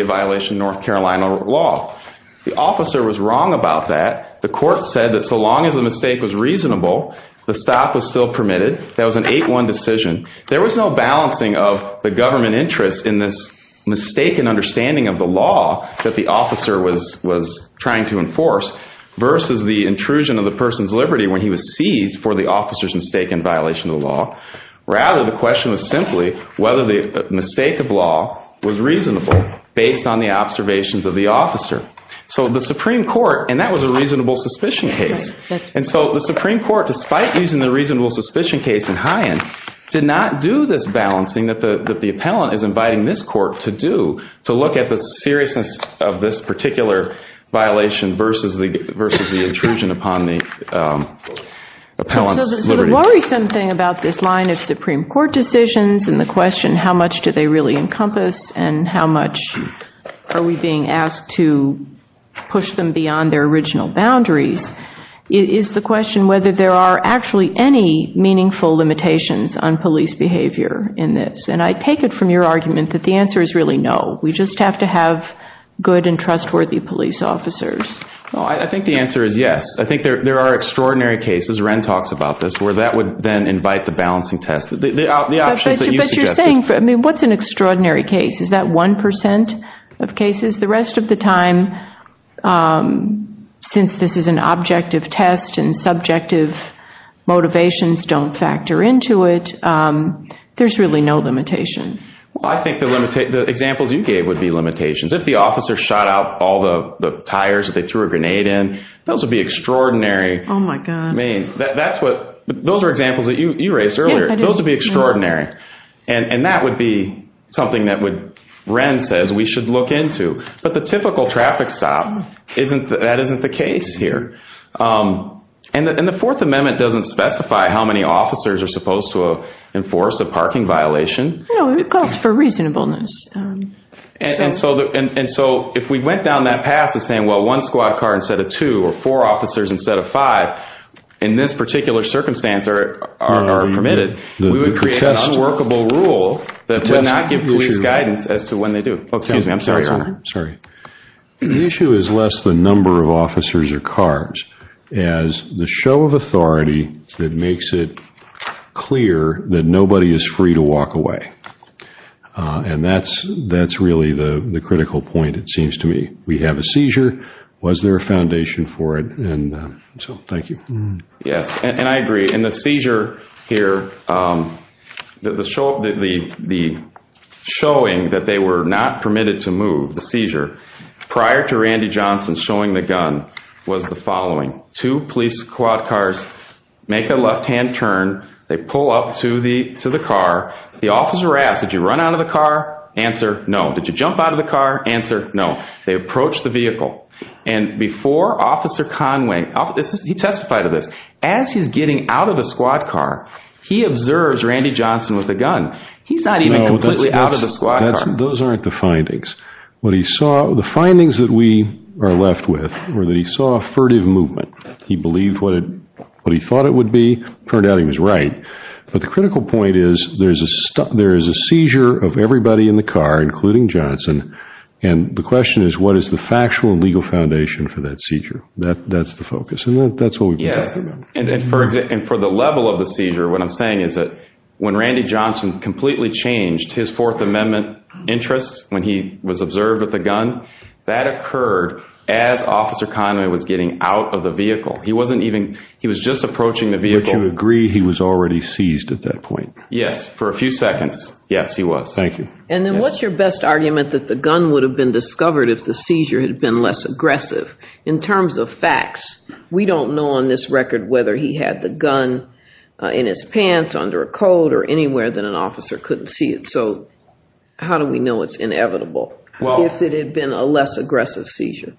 a violation of North Carolina law. The officer was wrong about that. The court said that so long as the mistake was reasonable, the stop was still permitted. That was an 8-1 decision. There was no balancing of the government interest in this mistaken understanding of the law that the officer was trying to enforce versus the intrusion of the person's liberty when he was seized for the officer's mistaken violation of the law. Rather, the question was simply whether the mistake of law was reasonable based on the observations of the officer. So the Supreme Court, and that was a reasonable suspicion case. The Supreme Court, despite using the reasonable suspicion case in High End, did not do this balancing that the appellant is inviting this court to do to look at the seriousness of this particular violation versus the intrusion upon the appellant's liberty. There's always something about this line of Supreme Court decisions and the question how much do they really encompass and how much are we being asked to push them beyond their original boundaries is the question whether there are actually any meaningful limitations on police behavior in this. And I take it from your argument that the answer is really no. We just have to have good and trustworthy police officers. I think the answer is yes. I think there are extraordinary cases, Ren talks about this, where that would then invite the balancing test. But you're saying, what's an extraordinary case? Is that 1% of cases? The rest of the time, since this is an objective test and subjective motivations don't factor into it, there's really no limitation. I think the examples you gave would be limitations. If the officer shot out all the tires that they threw a grenade in, those would be extraordinary. Those are examples that you raised earlier. Those would be extraordinary. And that would be something that Ren says we should look into. But the typical traffic stop, that isn't the case here. And the Fourth Amendment doesn't specify how many officers are supposed to enforce a parking violation. It calls for reasonableness. And so if we went down that path of saying, well, one squad car instead of two or four officers instead of five in this particular circumstance are permitted, we would create an unworkable rule that would not give police guidance as to when they do it. Excuse me, I'm sorry. The issue is less the number of officers or cars as the show of authority that makes it clear that nobody is free to walk away. And that's really the critical point, it seems to me. We have a seizure. Was there a foundation for it? And so thank you. Yes, and I agree. In the seizure here, the showing that they were not permitted to move, the seizure, prior to Randy Johnson showing the gun was the following. Two police squad cars make a left-hand turn. They pull up to the car. The officer asks, did you run out of the car? Answer, no. Did you jump out of the car? Answer, no. They approach the vehicle. And before Officer Conway, he testified to this, as he's getting out of the squad car, he observes Randy Johnson with a gun. He's not even completely out of the squad car. Those aren't the findings. The findings that we are left with were that he saw a furtive movement. He believed what he thought it would be. Turned out he was right. But the critical point is, there is a seizure of everybody in the car, including Johnson. And the question is, what is the factual legal foundation for that seizure? That's the focus. And that's what we've got to remember. And for the level of the seizure, what I'm saying is that when Randy Johnson completely changed his Fourth Amendment interest when he was observed with a gun, that occurred as Officer Conway was getting out of the vehicle. He wasn't even, he was just approaching the vehicle. I would agree he was already seized at that point. Yes. For a few seconds. Yes, he was. Thank you. And then what's your best argument that the gun would have been discovered if the seizure had been less aggressive? In terms of facts, we don't know on this record whether he had the gun in his pants, under a coat, or anywhere that an officer couldn't see it. So how do we know it's inevitable? If it had been a less aggressive seizure.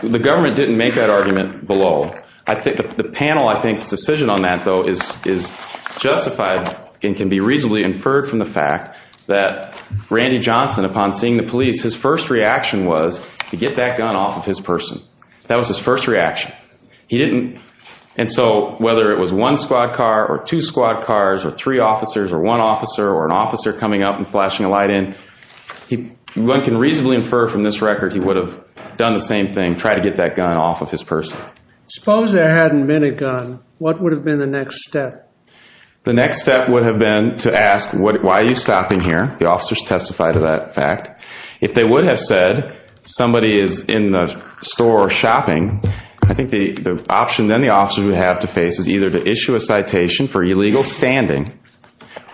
The government didn't make that argument below. The panel, I think, decision on that, though, is justified and can be reasonably inferred from the fact that Randy Johnson, upon seeing the police, his first reaction was to get that gun off of his person. That was his first reaction. He didn't, and so whether it was one squad car or two squad cars or three officers or one officer or an officer coming up and flashing a light in, one can reasonably infer from this record that he would have done the same thing, tried to get that gun off of his person. Suppose there hadn't been a gun. What would have been the next step? The next step would have been to ask, why are you stopping here? The officers testified to that fact. If they would have said somebody is in the store shopping, I think the option then the officers would have to face is either to issue a citation for illegal standing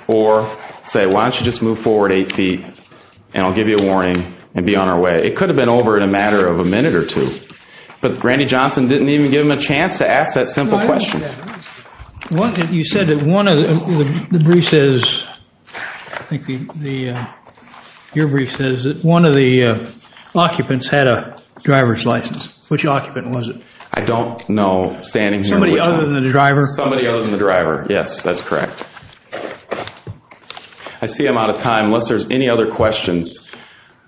or say, why don't you just move forward eight feet and I'll give you a warning and be on our way. It could have been over in a matter of a minute or two. But Randy Johnson didn't even give him a chance to ask that simple question. You said that one of the, your brief says that one of the occupants had a driver's license. Which occupant was it? I don't know standing here. Somebody other than the driver? Somebody other than the driver, yes, that's correct. I see I'm out of time. Unless there's any other questions,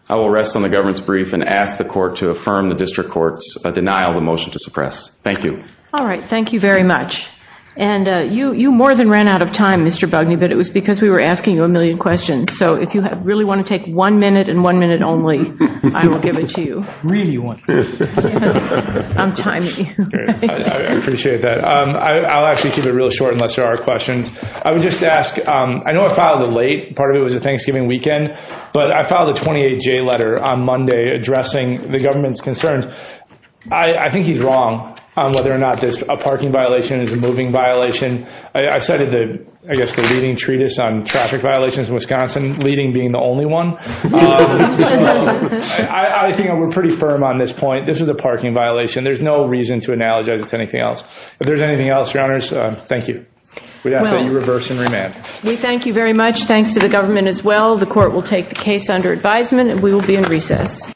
I will rest on the government's brief and ask the court to affirm the district court's denial of the motion to suppress. Thank you. All right. Thank you very much. And you more than ran out of time, Mr. Bugney, but it was because we were asking you a million questions. So if you really want to take one minute and one minute only, I will give it to you. Really want to. I'm tiny. I appreciate that. I'll actually keep it real short unless there are questions. I would just ask, I know I filed it late. Part of it was a Thanksgiving weekend. But I filed a 28-J letter on Monday addressing the government's concerns. I think he's wrong on whether or not a parking violation is a moving violation. I cited, I guess, the leading treatise on traffic violations in Wisconsin, leading being the only one. I think we're pretty firm on this point. This is a parking violation. There's no reason to analogize it to anything else. If there's anything else, Your Honors, thank you. We ask that you reverse and remand. We thank you very much. Thanks to the government as well. The court will take the case under advisement, and we will be in recess.